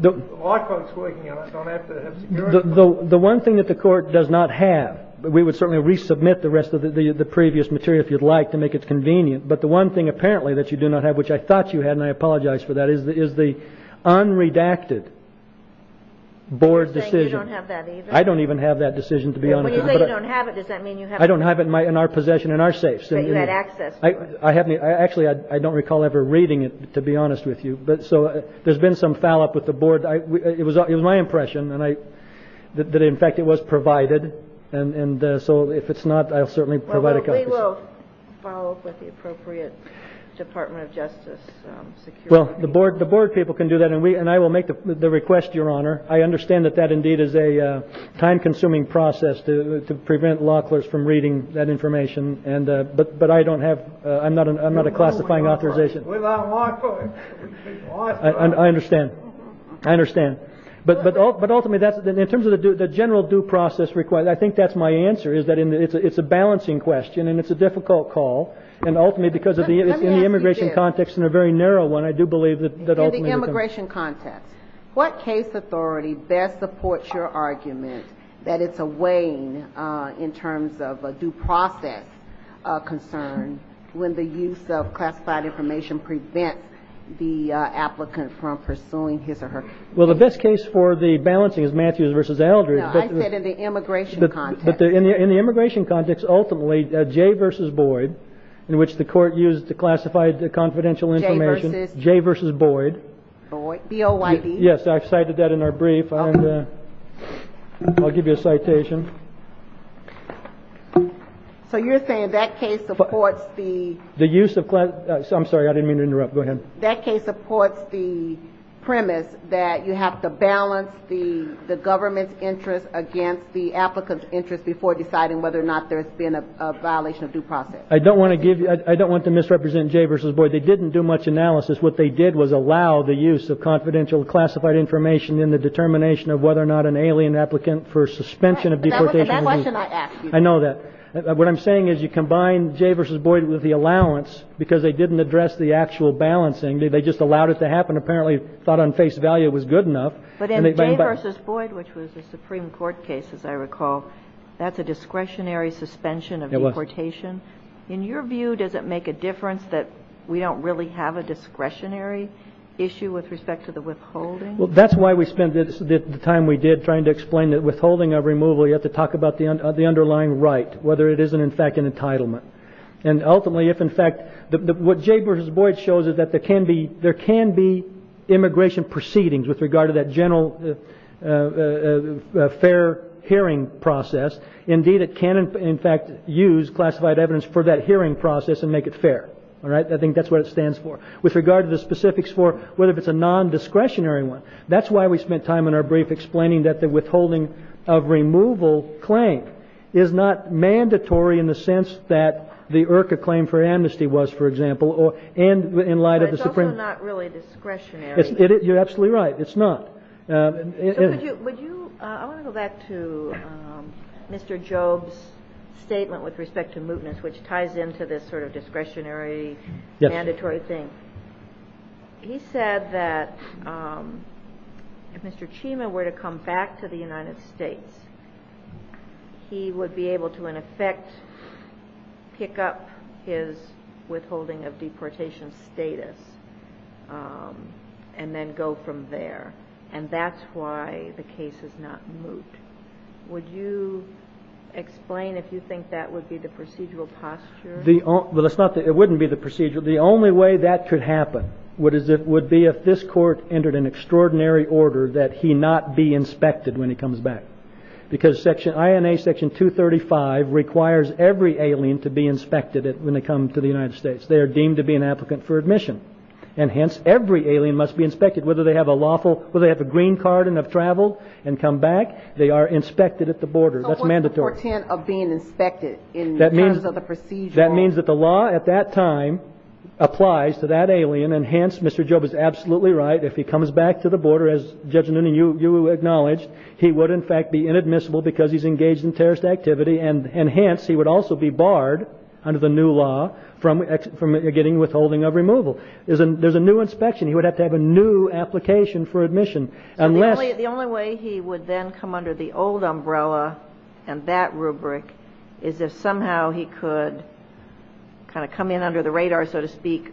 the law clerks working on it don't have to have security clearance. The one thing that the Court does not have – we would certainly resubmit the rest of the previous material, if you'd like, to make it convenient. But the one thing, apparently, that you do not have, which I thought you had, and I apologize for that, is the unredacted board decision. You're saying you don't have that either? I don't even have that decision, to be honest with you. When you say you don't have it, does that mean you have it? I don't have it in our possession, in our safe. So you had access to it. Actually, I don't recall ever reading it, to be honest with you. So there's been some fallop with the board. It was my impression that, in fact, it was provided. So if it's not, I'll certainly provide a copy. We will follow up with the appropriate Department of Justice security. Well, the board people can do that, and I will make the request, Your Honor. I understand that that, indeed, is a time-consuming process to prevent law clerks from reading that information. But I don't have – I'm not a classifying authorization. We're not law clerks. I understand. I understand. But ultimately, in terms of the general due process request, I think that's my answer, is that it's a balancing question and it's a difficult call. And ultimately, because it's in the immigration context and a very narrow one, I do believe that ultimately the – In the immigration context, what case authority best supports your argument that it's a waning in terms of a due process concern when the use of classified information prevents the applicant from pursuing his or her case? Well, the best case for the balancing is Matthews v. Eldridge. No, I said in the immigration context. But in the immigration context, ultimately, Jay v. Boyd, in which the court used the classified confidential information – Jay v. – Jay v. Boyd. Boyd, B-O-Y-D. Yes, I've cited that in our brief. I'll give you a citation. So you're saying that case supports the – The use of – I'm sorry. I didn't mean to interrupt. Go ahead. That case supports the premise that you have to balance the government's interest against the applicant's interest before deciding whether or not there's been a violation of due process. I don't want to give – I don't want to misrepresent Jay v. Boyd. They didn't do much analysis. What they did was allow the use of confidential classified information in the determination of whether or not an alien applicant for suspension of due process I know that. What I'm saying is you combine Jay v. Boyd with the allowance because they didn't address the actual balancing. They just allowed it to happen, apparently thought on face value it was good enough. But in Jay v. Boyd, which was a Supreme Court case, as I recall, that's a discretionary suspension of deportation. In your view, does it make a difference that we don't really have a discretionary issue with respect to the withholding? Well, that's why we spent the time we did trying to explain that withholding of removal, you have to talk about the underlying right, whether it is, in fact, an entitlement. And ultimately, if in fact – what Jay v. Boyd shows is that there can be – there can be immigration proceedings with regard to that general fair hearing process. Indeed, it can, in fact, use classified evidence for that hearing process and make it fair. I think that's what it stands for. With regard to the specifics for whether it's a non-discretionary one, that's why we spent time in our brief explaining that the withholding of removal claim is not mandatory in the sense that the IRCA claim for amnesty was, for example, and in light of the Supreme – But it's also not really discretionary. You're absolutely right. It's not. Would you – I want to go back to Mr. Jobes' statement with respect to mootness, which ties into this sort of discretionary, mandatory thing. He said that if Mr. Chima were to come back to the United States, he would be able to, in effect, pick up his withholding of deportation status and then go from there, and that's why the case is not moot. Would you explain if you think that would be the procedural posture? Well, it wouldn't be the procedural. The only way that could happen would be if this court entered an extraordinary order that he not be inspected when he comes back, because INA Section 235 requires every alien to be inspected when they come to the United States. They are deemed to be an applicant for admission, and hence every alien must be inspected. Whether they have a green card and have traveled and come back, they are inspected at the border. That's mandatory. So what's the portent of being inspected in terms of the procedural? That means that the law at that time applies to that alien, and hence Mr. Jobes is absolutely right. If he comes back to the border, as Judge Noonan, you acknowledged, he would, in fact, be inadmissible because he's engaged in terrorist activity, and hence he would also be barred under the new law from getting withholding of removal. There's a new inspection. He would have to have a new application for admission. So the only way he would then come under the old umbrella and that rubric is if somehow he could kind of come in under the radar, so to speak,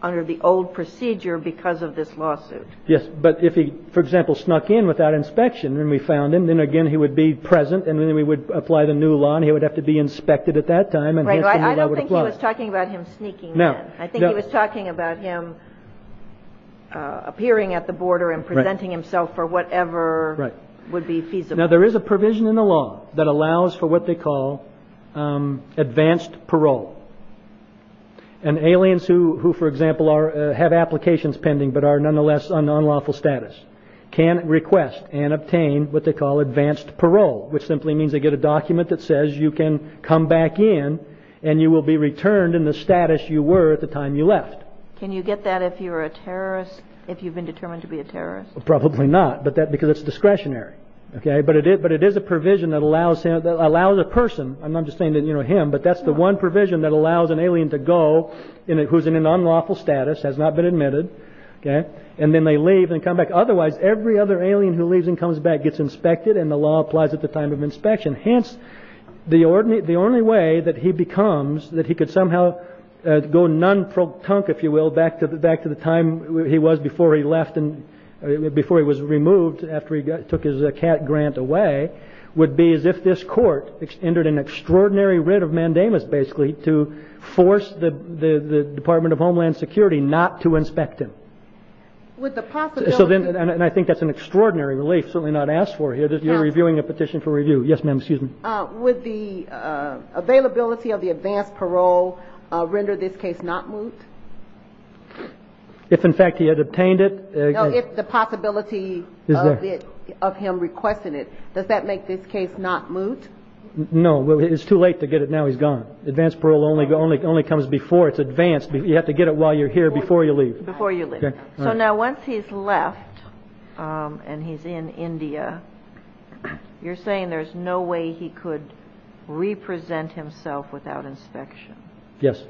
under the old procedure because of this lawsuit. Yes, but if he, for example, snuck in without inspection and we found him, then again he would be present and then we would apply the new law and he would have to be inspected at that time. I don't think he was talking about him sneaking in. I think he was talking about him appearing at the border and presenting himself for whatever would be feasible. Now, there is a provision in the law that allows for what they call advanced parole, and aliens who, for example, have applications pending but are nonetheless on unlawful status can request and obtain what they call advanced parole, which simply means they get a document that says you can come back in and you will be returned in the status you were at the time you left. Can you get that if you're a terrorist, if you've been determined to be a terrorist? Probably not, because it's discretionary. But it is a provision that allows a person, I'm not just saying him, but that's the one provision that allows an alien to go who's in an unlawful status, has not been admitted, and then they leave and come back. Otherwise, every other alien who leaves and comes back gets inspected and the law applies at the time of inspection. Hence, the only way that he becomes, that he could somehow go non-pro-tunk, if you will, back to the time he was before he left and before he was removed after he took his CAT grant away, would be as if this Court entered an extraordinary writ of mandamus, basically, to force the Department of Homeland Security not to inspect him. And I think that's an extraordinary relief, certainly not asked for here. You're reviewing a petition for review. Yes, ma'am, excuse me. Would the availability of the advanced parole render this case not moot? If, in fact, he had obtained it? No, if the possibility of him requesting it. Does that make this case not moot? No. It's too late to get it now he's gone. Advanced parole only comes before it's advanced. You have to get it while you're here before you leave. Before you leave. Okay. So now once he's left and he's in India, you're saying there's no way he could represent himself without inspection? Yes.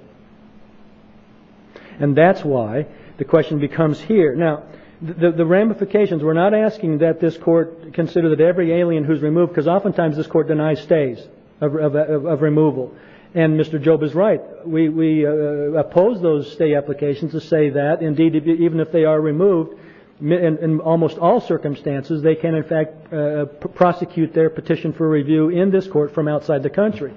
And that's why the question becomes here. Now, the ramifications, we're not asking that this Court consider that every alien who's removed, because oftentimes this Court denies stays of removal. And Mr. Job is right. We oppose those stay applications to say that. Indeed, even if they are removed, in almost all circumstances, they can, in fact, prosecute their petition for review in this Court from outside the country.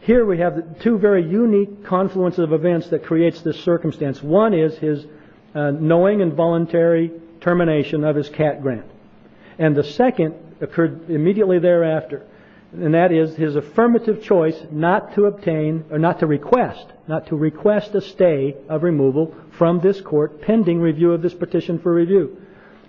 Here we have two very unique confluences of events that creates this circumstance. One is his knowing and voluntary termination of his CAT grant. And the second occurred immediately thereafter, and that is his affirmative choice not to obtain or not to request, not to request a stay of removal from this Court pending review of this petition for review.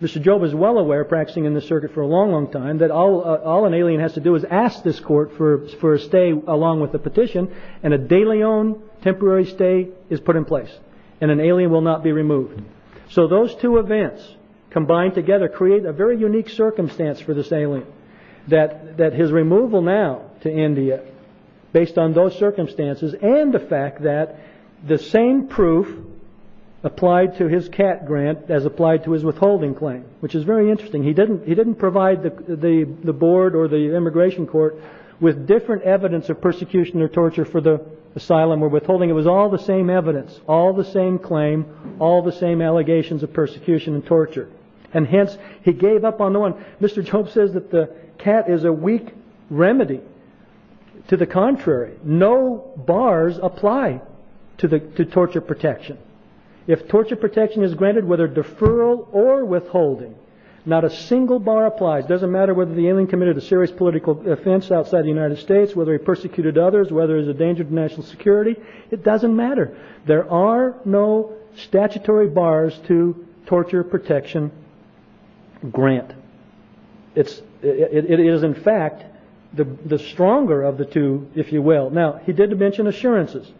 Mr. Job is well aware, practicing in this circuit for a long, long time, that all an alien has to do is ask this Court for a stay along with the petition, and a de Leon temporary stay is put in place, and an alien will not be removed. So those two events combined together create a very unique circumstance for this alien, that his removal now to India, based on those circumstances, and the fact that the same proof applied to his CAT grant as applied to his withholding claim, which is very interesting. He didn't provide the board or the immigration court with different evidence of persecution or torture for the asylum or withholding. It was all the same evidence, all the same claim, all the same allegations of persecution and torture. And hence, he gave up on the one. Mr. Job says that the CAT is a weak remedy. To the contrary, no bars apply to torture protection. If torture protection is granted, whether deferral or withholding, not a single bar applies. It doesn't matter whether the alien committed a serious political offense outside the United States, whether he persecuted others, whether he's a danger to national security. It doesn't matter. There are no statutory bars to torture protection grant. It is, in fact, the stronger of the two, if you will. Now, he did mention assurances.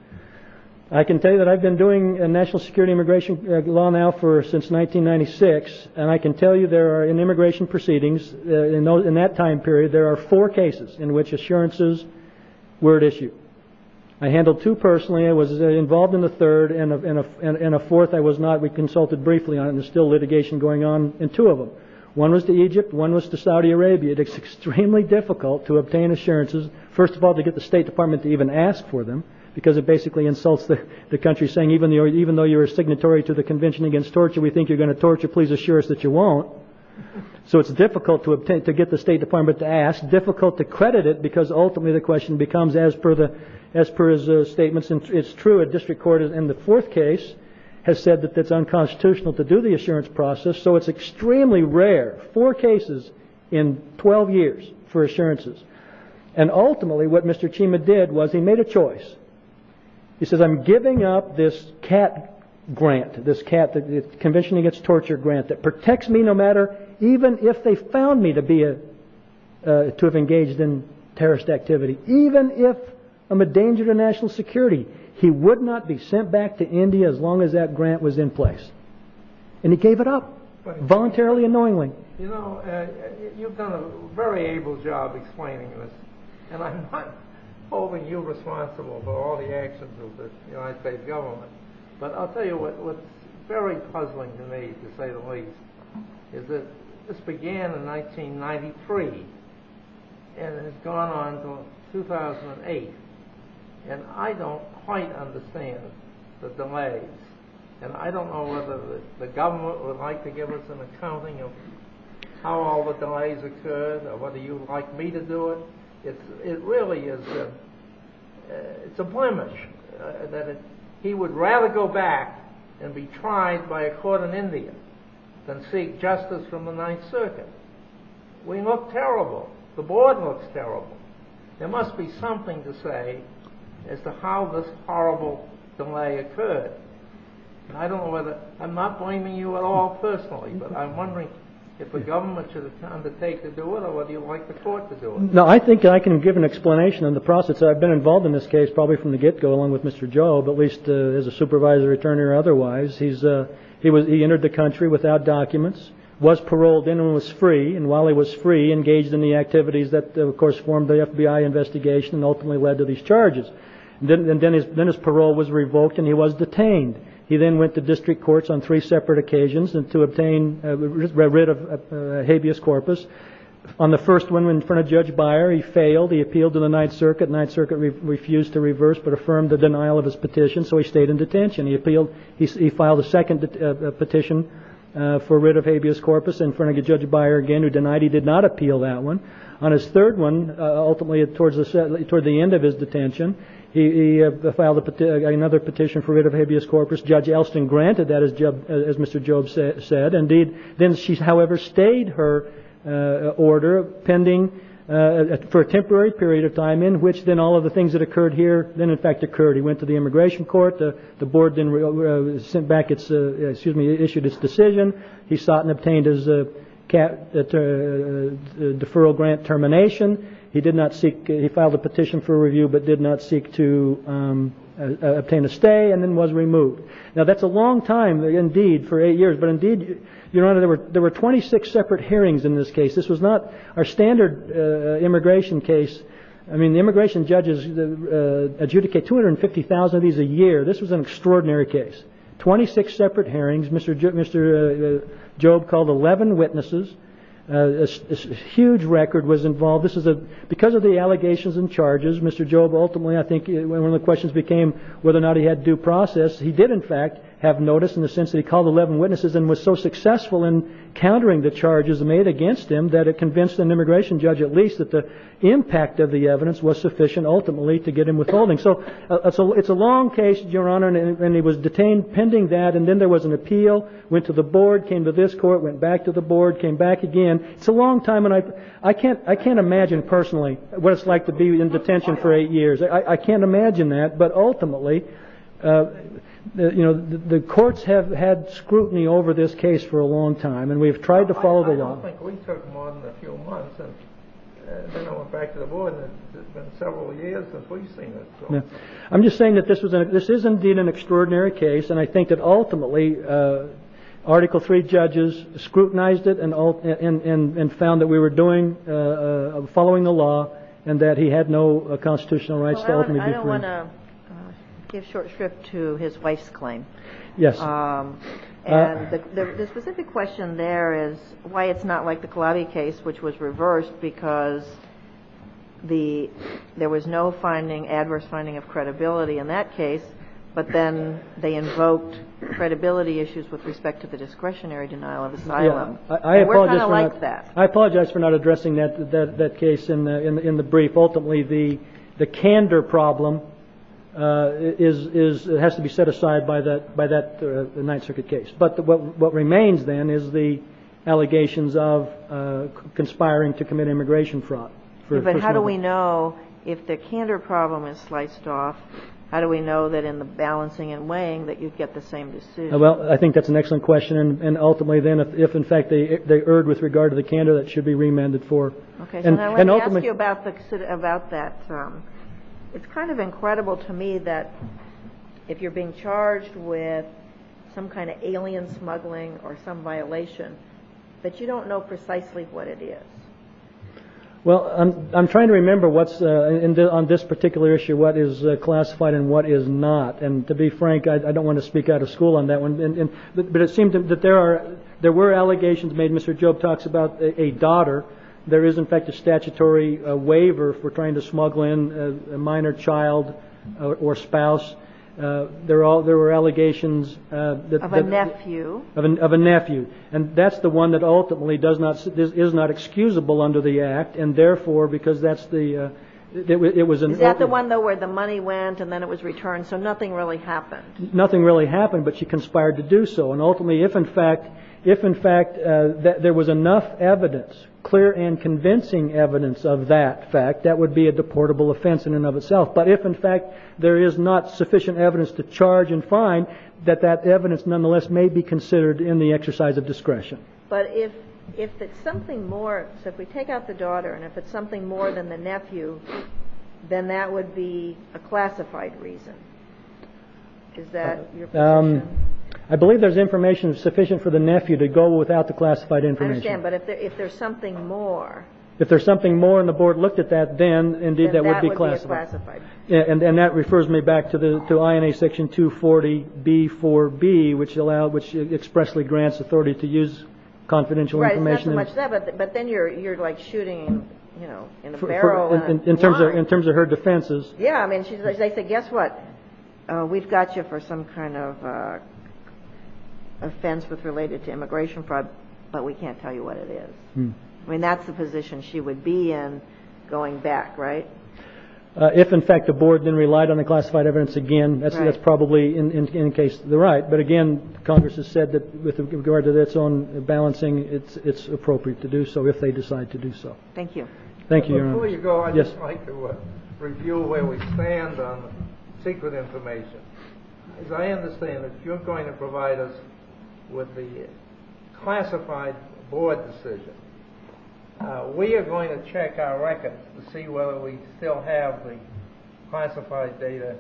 I can tell you that I've been doing national security immigration law now since 1996, and I can tell you there are, in immigration proceedings in that time period, there are four cases in which assurances were at issue. I handled two personally. I was involved in the third, and a fourth I was not. We consulted briefly on it, and there's still litigation going on in two of them. One was to Egypt. One was to Saudi Arabia. It's extremely difficult to obtain assurances, first of all, to get the State Department to even ask for them, because it basically insults the country, saying even though you're a signatory to the Convention Against Torture, we think you're going to torture. Please assure us that you won't. So it's difficult to get the State Department to ask, difficult to credit it, because ultimately the question becomes, as per his statements, it's true. A district court in the fourth case has said that it's unconstitutional to do the assurance process, so it's extremely rare, four cases in 12 years for assurances. And ultimately what Mr. Chima did was he made a choice. He says, I'm giving up this CAT grant, this Convention Against Torture grant, that protects me no matter, even if they found me to have engaged in terrorist activity, even if I'm a danger to national security. He would not be sent back to India as long as that grant was in place. And he gave it up, voluntarily and knowingly. You know, you've done a very able job explaining this, and I'm not holding you responsible for all the actions of the United States government, but I'll tell you what's very puzzling to me, to say the least, is that this began in 1993 and has gone on until 2008, and I don't quite understand the delays. And I don't know whether the government would like to give us an accounting of how all the delays occurred or whether you'd like me to do it. It really is a blemish that he would rather go back and be tried by a court in India than seek justice from the Ninth Circuit. We look terrible. The board looks terrible. There must be something to say as to how this horrible delay occurred. I'm not blaming you at all personally, but I'm wondering if the government should undertake to do it or whether you'd like the court to do it. No, I think I can give an explanation on the process. I've been involved in this case probably from the get-go, along with Mr. Job, at least as a supervisor, attorney or otherwise. He entered the country without documents, was paroled in and was free, and while he was free, engaged in the activities that, of course, formed the FBI investigation and ultimately led to these charges. Then his parole was revoked and he was detained. He then went to district courts on three separate occasions to obtain rid of habeas corpus. On the first one, in front of Judge Beyer, he failed. He appealed to the Ninth Circuit. Ninth Circuit refused to reverse but affirmed the denial of his petition, so he stayed in detention. He appealed. He filed a second petition for rid of habeas corpus in front of Judge Beyer again, who denied he did not appeal that one. On his third one, ultimately toward the end of his detention, he filed another petition for rid of habeas corpus. Judge Elston granted that, as Mr. Job said. Indeed, then she, however, stayed her order pending for a temporary period of time in which then all of the things that occurred here then, in fact, occurred. He went to the immigration court. The board then sent back its, excuse me, issued its decision. He sought and obtained his deferral grant termination. He did not seek, he filed a petition for review but did not seek to obtain a stay and then was removed. Now, that's a long time indeed for eight years, but indeed, Your Honor, there were 26 separate hearings in this case. This was not our standard immigration case. I mean, the immigration judges adjudicate 250,000 of these a year. This was an extraordinary case, 26 separate hearings. Mr. Job called 11 witnesses. A huge record was involved. Because of the allegations and charges, Mr. Job ultimately, I think, one of the questions became whether or not he had due process. He did, in fact, have notice in the sense that he called 11 witnesses and was so successful in countering the charges made against him that it convinced an immigration judge at least that the impact of the evidence was sufficient ultimately to get him withholding. So it's a long case, Your Honor, and he was detained pending that. And then there was an appeal, went to the board, came to this court, went back to the board, came back again. It's a long time, and I can't imagine personally what it's like to be in detention for eight years. I can't imagine that, but ultimately, you know, the courts have had scrutiny over this case for a long time, and we've tried to follow the law. I don't think we took more than a few months, and then I went back to the board, and it's been several years since we've seen it. I'm just saying that this is indeed an extraordinary case, and I think that ultimately Article III judges scrutinized it and found that we were following the law and that he had no constitutional rights to ultimately be free. I don't want to give short shrift to his wife's claim. Yes. And the specific question there is why it's not like the Kalabi case, which was reversed because there was no adverse finding of credibility in that case, but then they invoked credibility issues with respect to the discretionary denial of asylum. We're kind of like that. I apologize for not addressing that case in the brief. Ultimately, the candor problem has to be set aside by that Ninth Circuit case. But what remains then is the allegations of conspiring to commit immigration fraud. But how do we know if the candor problem is sliced off, how do we know that in the balancing and weighing that you'd get the same decision? Well, I think that's an excellent question, if in fact they erred with regard to the candor that should be remanded for. And I want to ask you about that. It's kind of incredible to me that if you're being charged with some kind of alien smuggling or some violation, that you don't know precisely what it is. Well, I'm trying to remember what's on this particular issue, what is classified and what is not. And to be frank, I don't want to speak out of school on that one. But it seemed that there were allegations made. Mr. Job talks about a daughter. There is, in fact, a statutory waiver for trying to smuggle in a minor child or spouse. There were allegations of a nephew. And that's the one that ultimately is not excusable under the Act. And therefore, because that's the – it was an open – Is that the one, though, where the money went and then it was returned, so nothing really happened? Nothing really happened, but she conspired to do so. And ultimately, if in fact there was enough evidence, clear and convincing evidence of that fact, that would be a deportable offense in and of itself. But if in fact there is not sufficient evidence to charge and fine, that that evidence nonetheless may be considered in the exercise of discretion. But if it's something more – so if we take out the daughter and if it's something more than the nephew, then that would be a classified reason. Is that your position? I believe there's information sufficient for the nephew to go without the classified information. I understand. But if there's something more – If there's something more and the board looked at that, then, indeed, that would be classified. Then that would be classified. And that refers me back to INA Section 240B4B, which expressly grants authority to use confidential information. Right. In terms of her defenses. Yeah. I mean, they say, guess what? We've got you for some kind of offense related to immigration fraud, but we can't tell you what it is. I mean, that's the position she would be in going back, right? If, in fact, the board then relied on the classified evidence again, that's probably, in any case, the right. But, again, Congress has said that with regard to its own balancing, it's appropriate to do so if they decide to do so. Thank you. Thank you, Your Honor. Before you go, I'd just like to review where we stand on secret information. As I understand it, you're going to provide us with the classified board decision. We are going to check our records to see whether we still have the classified data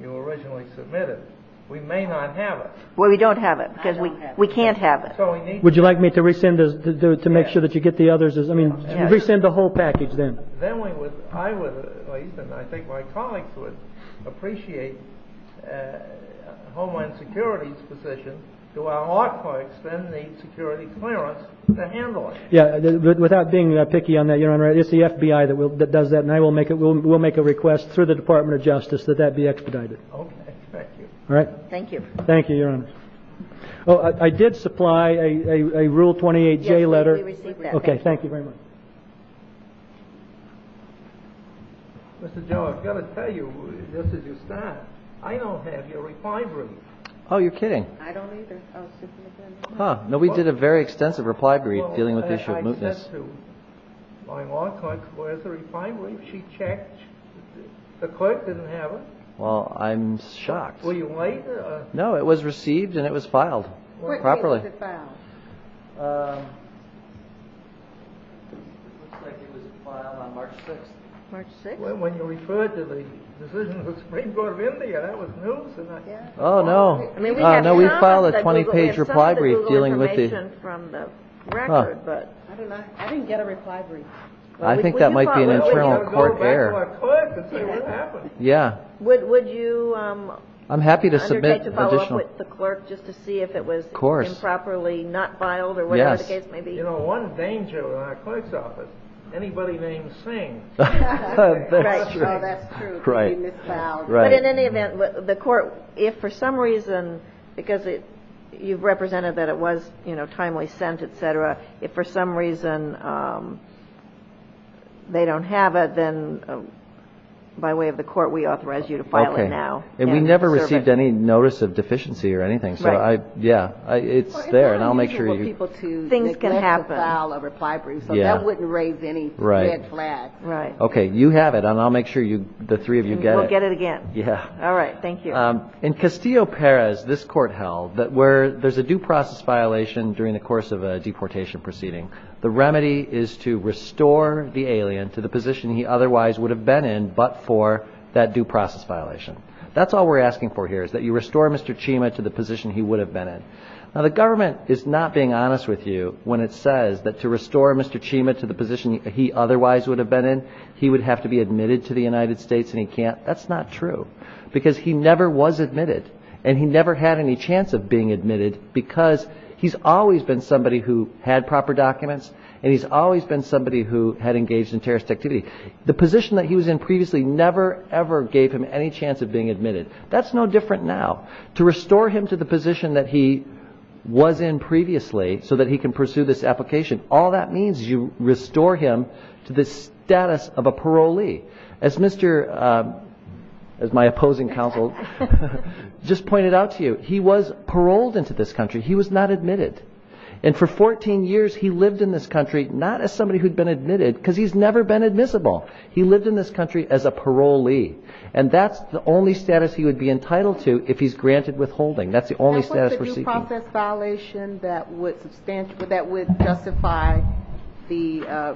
you originally submitted. We may not have it. Well, we don't have it because we can't have it. Would you like me to resend this to make sure that you get the others? I mean, resend the whole package then. Then I would, at least, and I think my colleagues would appreciate Homeland Security's position, do our hard parts then need security clearance to handle it? Yeah. Without being picky on that, Your Honor, it's the FBI that does that, and we'll make a request through the Department of Justice that that be expedited. Okay. Thank you. All right? Thank you. Thank you, Your Honor. I did supply a Rule 28J letter. Yes, we received that. Okay. Thank you very much. Mr. Joe, I've got to tell you, just as you start, I don't have your reply brief. Oh, you're kidding. I don't either. Oh, Superintendent. Huh. No, we did a very extensive reply brief dealing with the issue of mootness. I said to my law clerk, where's the reply brief? She checked. The clerk didn't have it. Well, I'm shocked. Were you late? No, it was received and it was filed properly. When was it filed? It looks like it was filed on March 6th. March 6th? When you referred to the decision of the Supreme Court of India. That was news. Oh, no. No, we filed a 20-page reply brief dealing with the... We have some of the Google information from the record, but... I didn't get a reply brief. I think that might be an internal court error. We have to go back to our clerk and see what happened. Yeah. Would you undertake to follow up with the clerk just to see if it was improper? Of course. Improperly not filed or whatever the case may be? Yes. You know, one danger in our clerk's office, anybody named Singh. That's true. That's true. Right. But in any event, the court, if for some reason, because you've represented that it was, you know, timely sent, et cetera, if for some reason they don't have it, then by way of the court, we authorize you to file it now. Okay. And we never received any notice of deficiency or anything. Right. Yeah. It's there, and I'll make sure you... Well, it's not unusual for people to neglect to file a reply brief, so that wouldn't raise any red flags. Right. Right. Okay. You have it, and I'll make sure the three of you get it. We'll get it again. Yeah. All right. Thank you. In Castillo-Perez, this court held that where there's a due process violation during the course of a deportation proceeding, the remedy is to restore the alien to the position he otherwise would have been in but for that due process violation. That's all we're asking for here, is that you restore Mr. Chima to the position he would have been in. Now, the government is not being honest with you when it says that to restore Mr. Chima to the position he otherwise would have been in, he would have to be admitted to the United States, and he can't. That's not true, because he never was admitted, and he never had any chance of being admitted because he's always been somebody who had proper documents, and he's always been somebody who had engaged in terrorist activity. The position that he was in previously never, ever gave him any chance of being admitted. That's no different now. To restore him to the position that he was in previously so that he can pursue this application, all that means is you restore him to the status of a parolee. As my opposing counsel just pointed out to you, he was paroled into this country. He was not admitted. And for 14 years, he lived in this country not as somebody who'd been admitted because he's never been admissible. He lived in this country as a parolee, and that's the only status he would be entitled to if he's granted withholding. That's the only status we're seeking. And what's the due process violation that would justify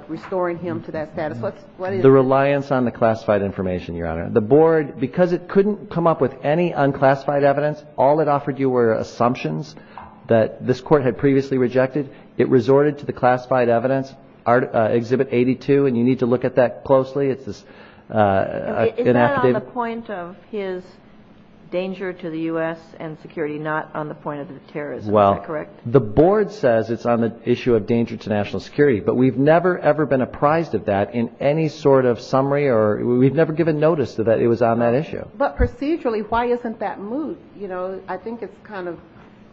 restoring him to that status? What is it? The reliance on the classified information, Your Honor. The board, because it couldn't come up with any unclassified evidence, all it offered you were assumptions that this court had previously rejected. It resorted to the classified evidence, Exhibit 82, and you need to look at that closely. It's an affidavit. Is that on the point of his danger to the U.S. and security, not on the point of the terrorism? Is that correct? Well, the board says it's on the issue of danger to national security, but we've never, ever been apprised of that in any sort of summary or we've never given notice that it was on that issue. But procedurally, why isn't that moved? You know, I think it's kind of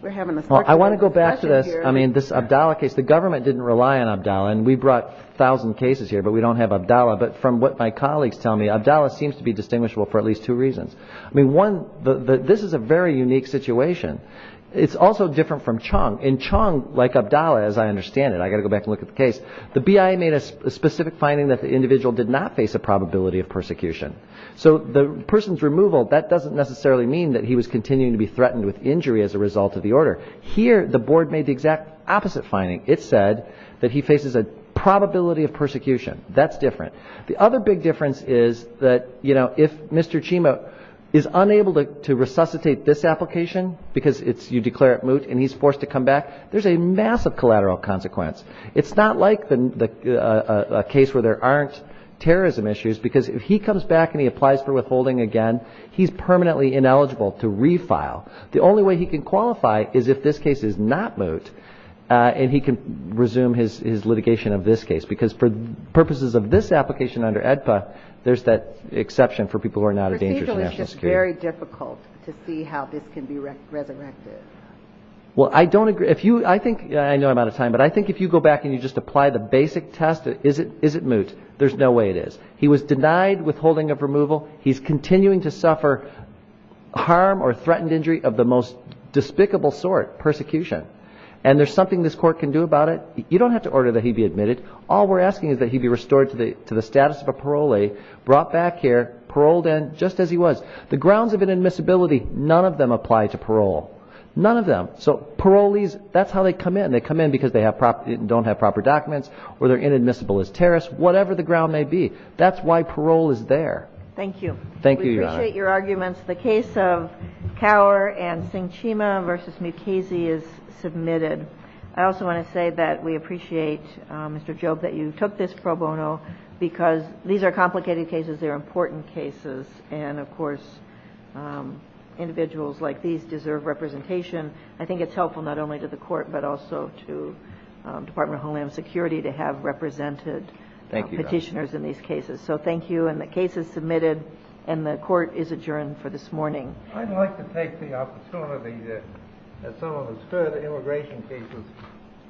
we're having a special discussion here. Well, I want to go back to this. I mean, this Abdallah case, the government didn't rely on Abdallah, and we brought a thousand cases here, but we don't have Abdallah. But from what my colleagues tell me, Abdallah seems to be distinguishable for at least two reasons. I mean, one, this is a very unique situation. It's also different from Chung. In Chung, like Abdallah, as I understand it, I've got to go back and look at the case, the BIA made a specific finding that the individual did not face a probability of persecution. So the person's removal, that doesn't necessarily mean that he was continuing to be threatened with injury as a result of the order. Here, the board made the exact opposite finding. It said that he faces a probability of persecution. That's different. The other big difference is that, you know, if Mr. Chima is unable to resuscitate this application because you declare it moot and he's forced to come back, there's a massive collateral consequence. It's not like a case where there aren't terrorism issues, because if he comes back and he applies for withholding again, he's permanently ineligible to refile. The only way he can qualify is if this case is not moot, and he can resume his litigation of this case, because for purposes of this application under AEDPA, there's that exception for people who are not a danger to national security. The procedure is just very difficult to see how this can be resurrected. Well, I don't agree. I know I'm out of time, but I think if you go back and you just apply the basic test, is it moot? There's no way it is. He was denied withholding of removal. He's continuing to suffer harm or threatened injury of the most despicable sort, persecution. And there's something this court can do about it. You don't have to order that he be admitted. All we're asking is that he be restored to the status of a parolee, brought back here, paroled and just as he was. The grounds of inadmissibility, none of them apply to parole. None of them. So parolees, that's how they come in. They come in because they don't have proper documents or they're inadmissible as terrorists, whatever the ground may be. That's why parole is there. Thank you. Thank you, Your Honor. We appreciate your arguments. The case of Cower and Sinchima v. Mukasey is submitted. I also want to say that we appreciate, Mr. Job, that you took this pro bono, because these are complicated cases. They're important cases. And, of course, individuals like these deserve representation. I think it's helpful not only to the court but also to Department of Homeland Security to have represented petitioners in these cases. So thank you. And the case is submitted and the court is adjourned for this morning. I'd like to take the opportunity that some of us heard immigration cases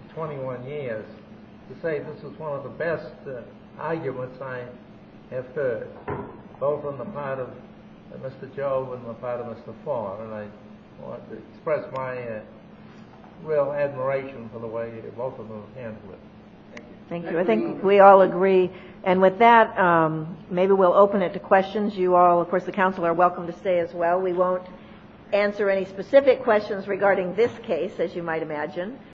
in 21 years to say this is one of the best arguments I have heard, both on the part of Mr. Job and the part of Mr. Farr. And I want to express my real admiration for the way both of them handled it. Thank you. I think we all agree. And with that, maybe we'll open it to questions. You all, of course, the counsel, are welcome to stay as well. We won't answer any specific questions regarding this case, as you might imagine.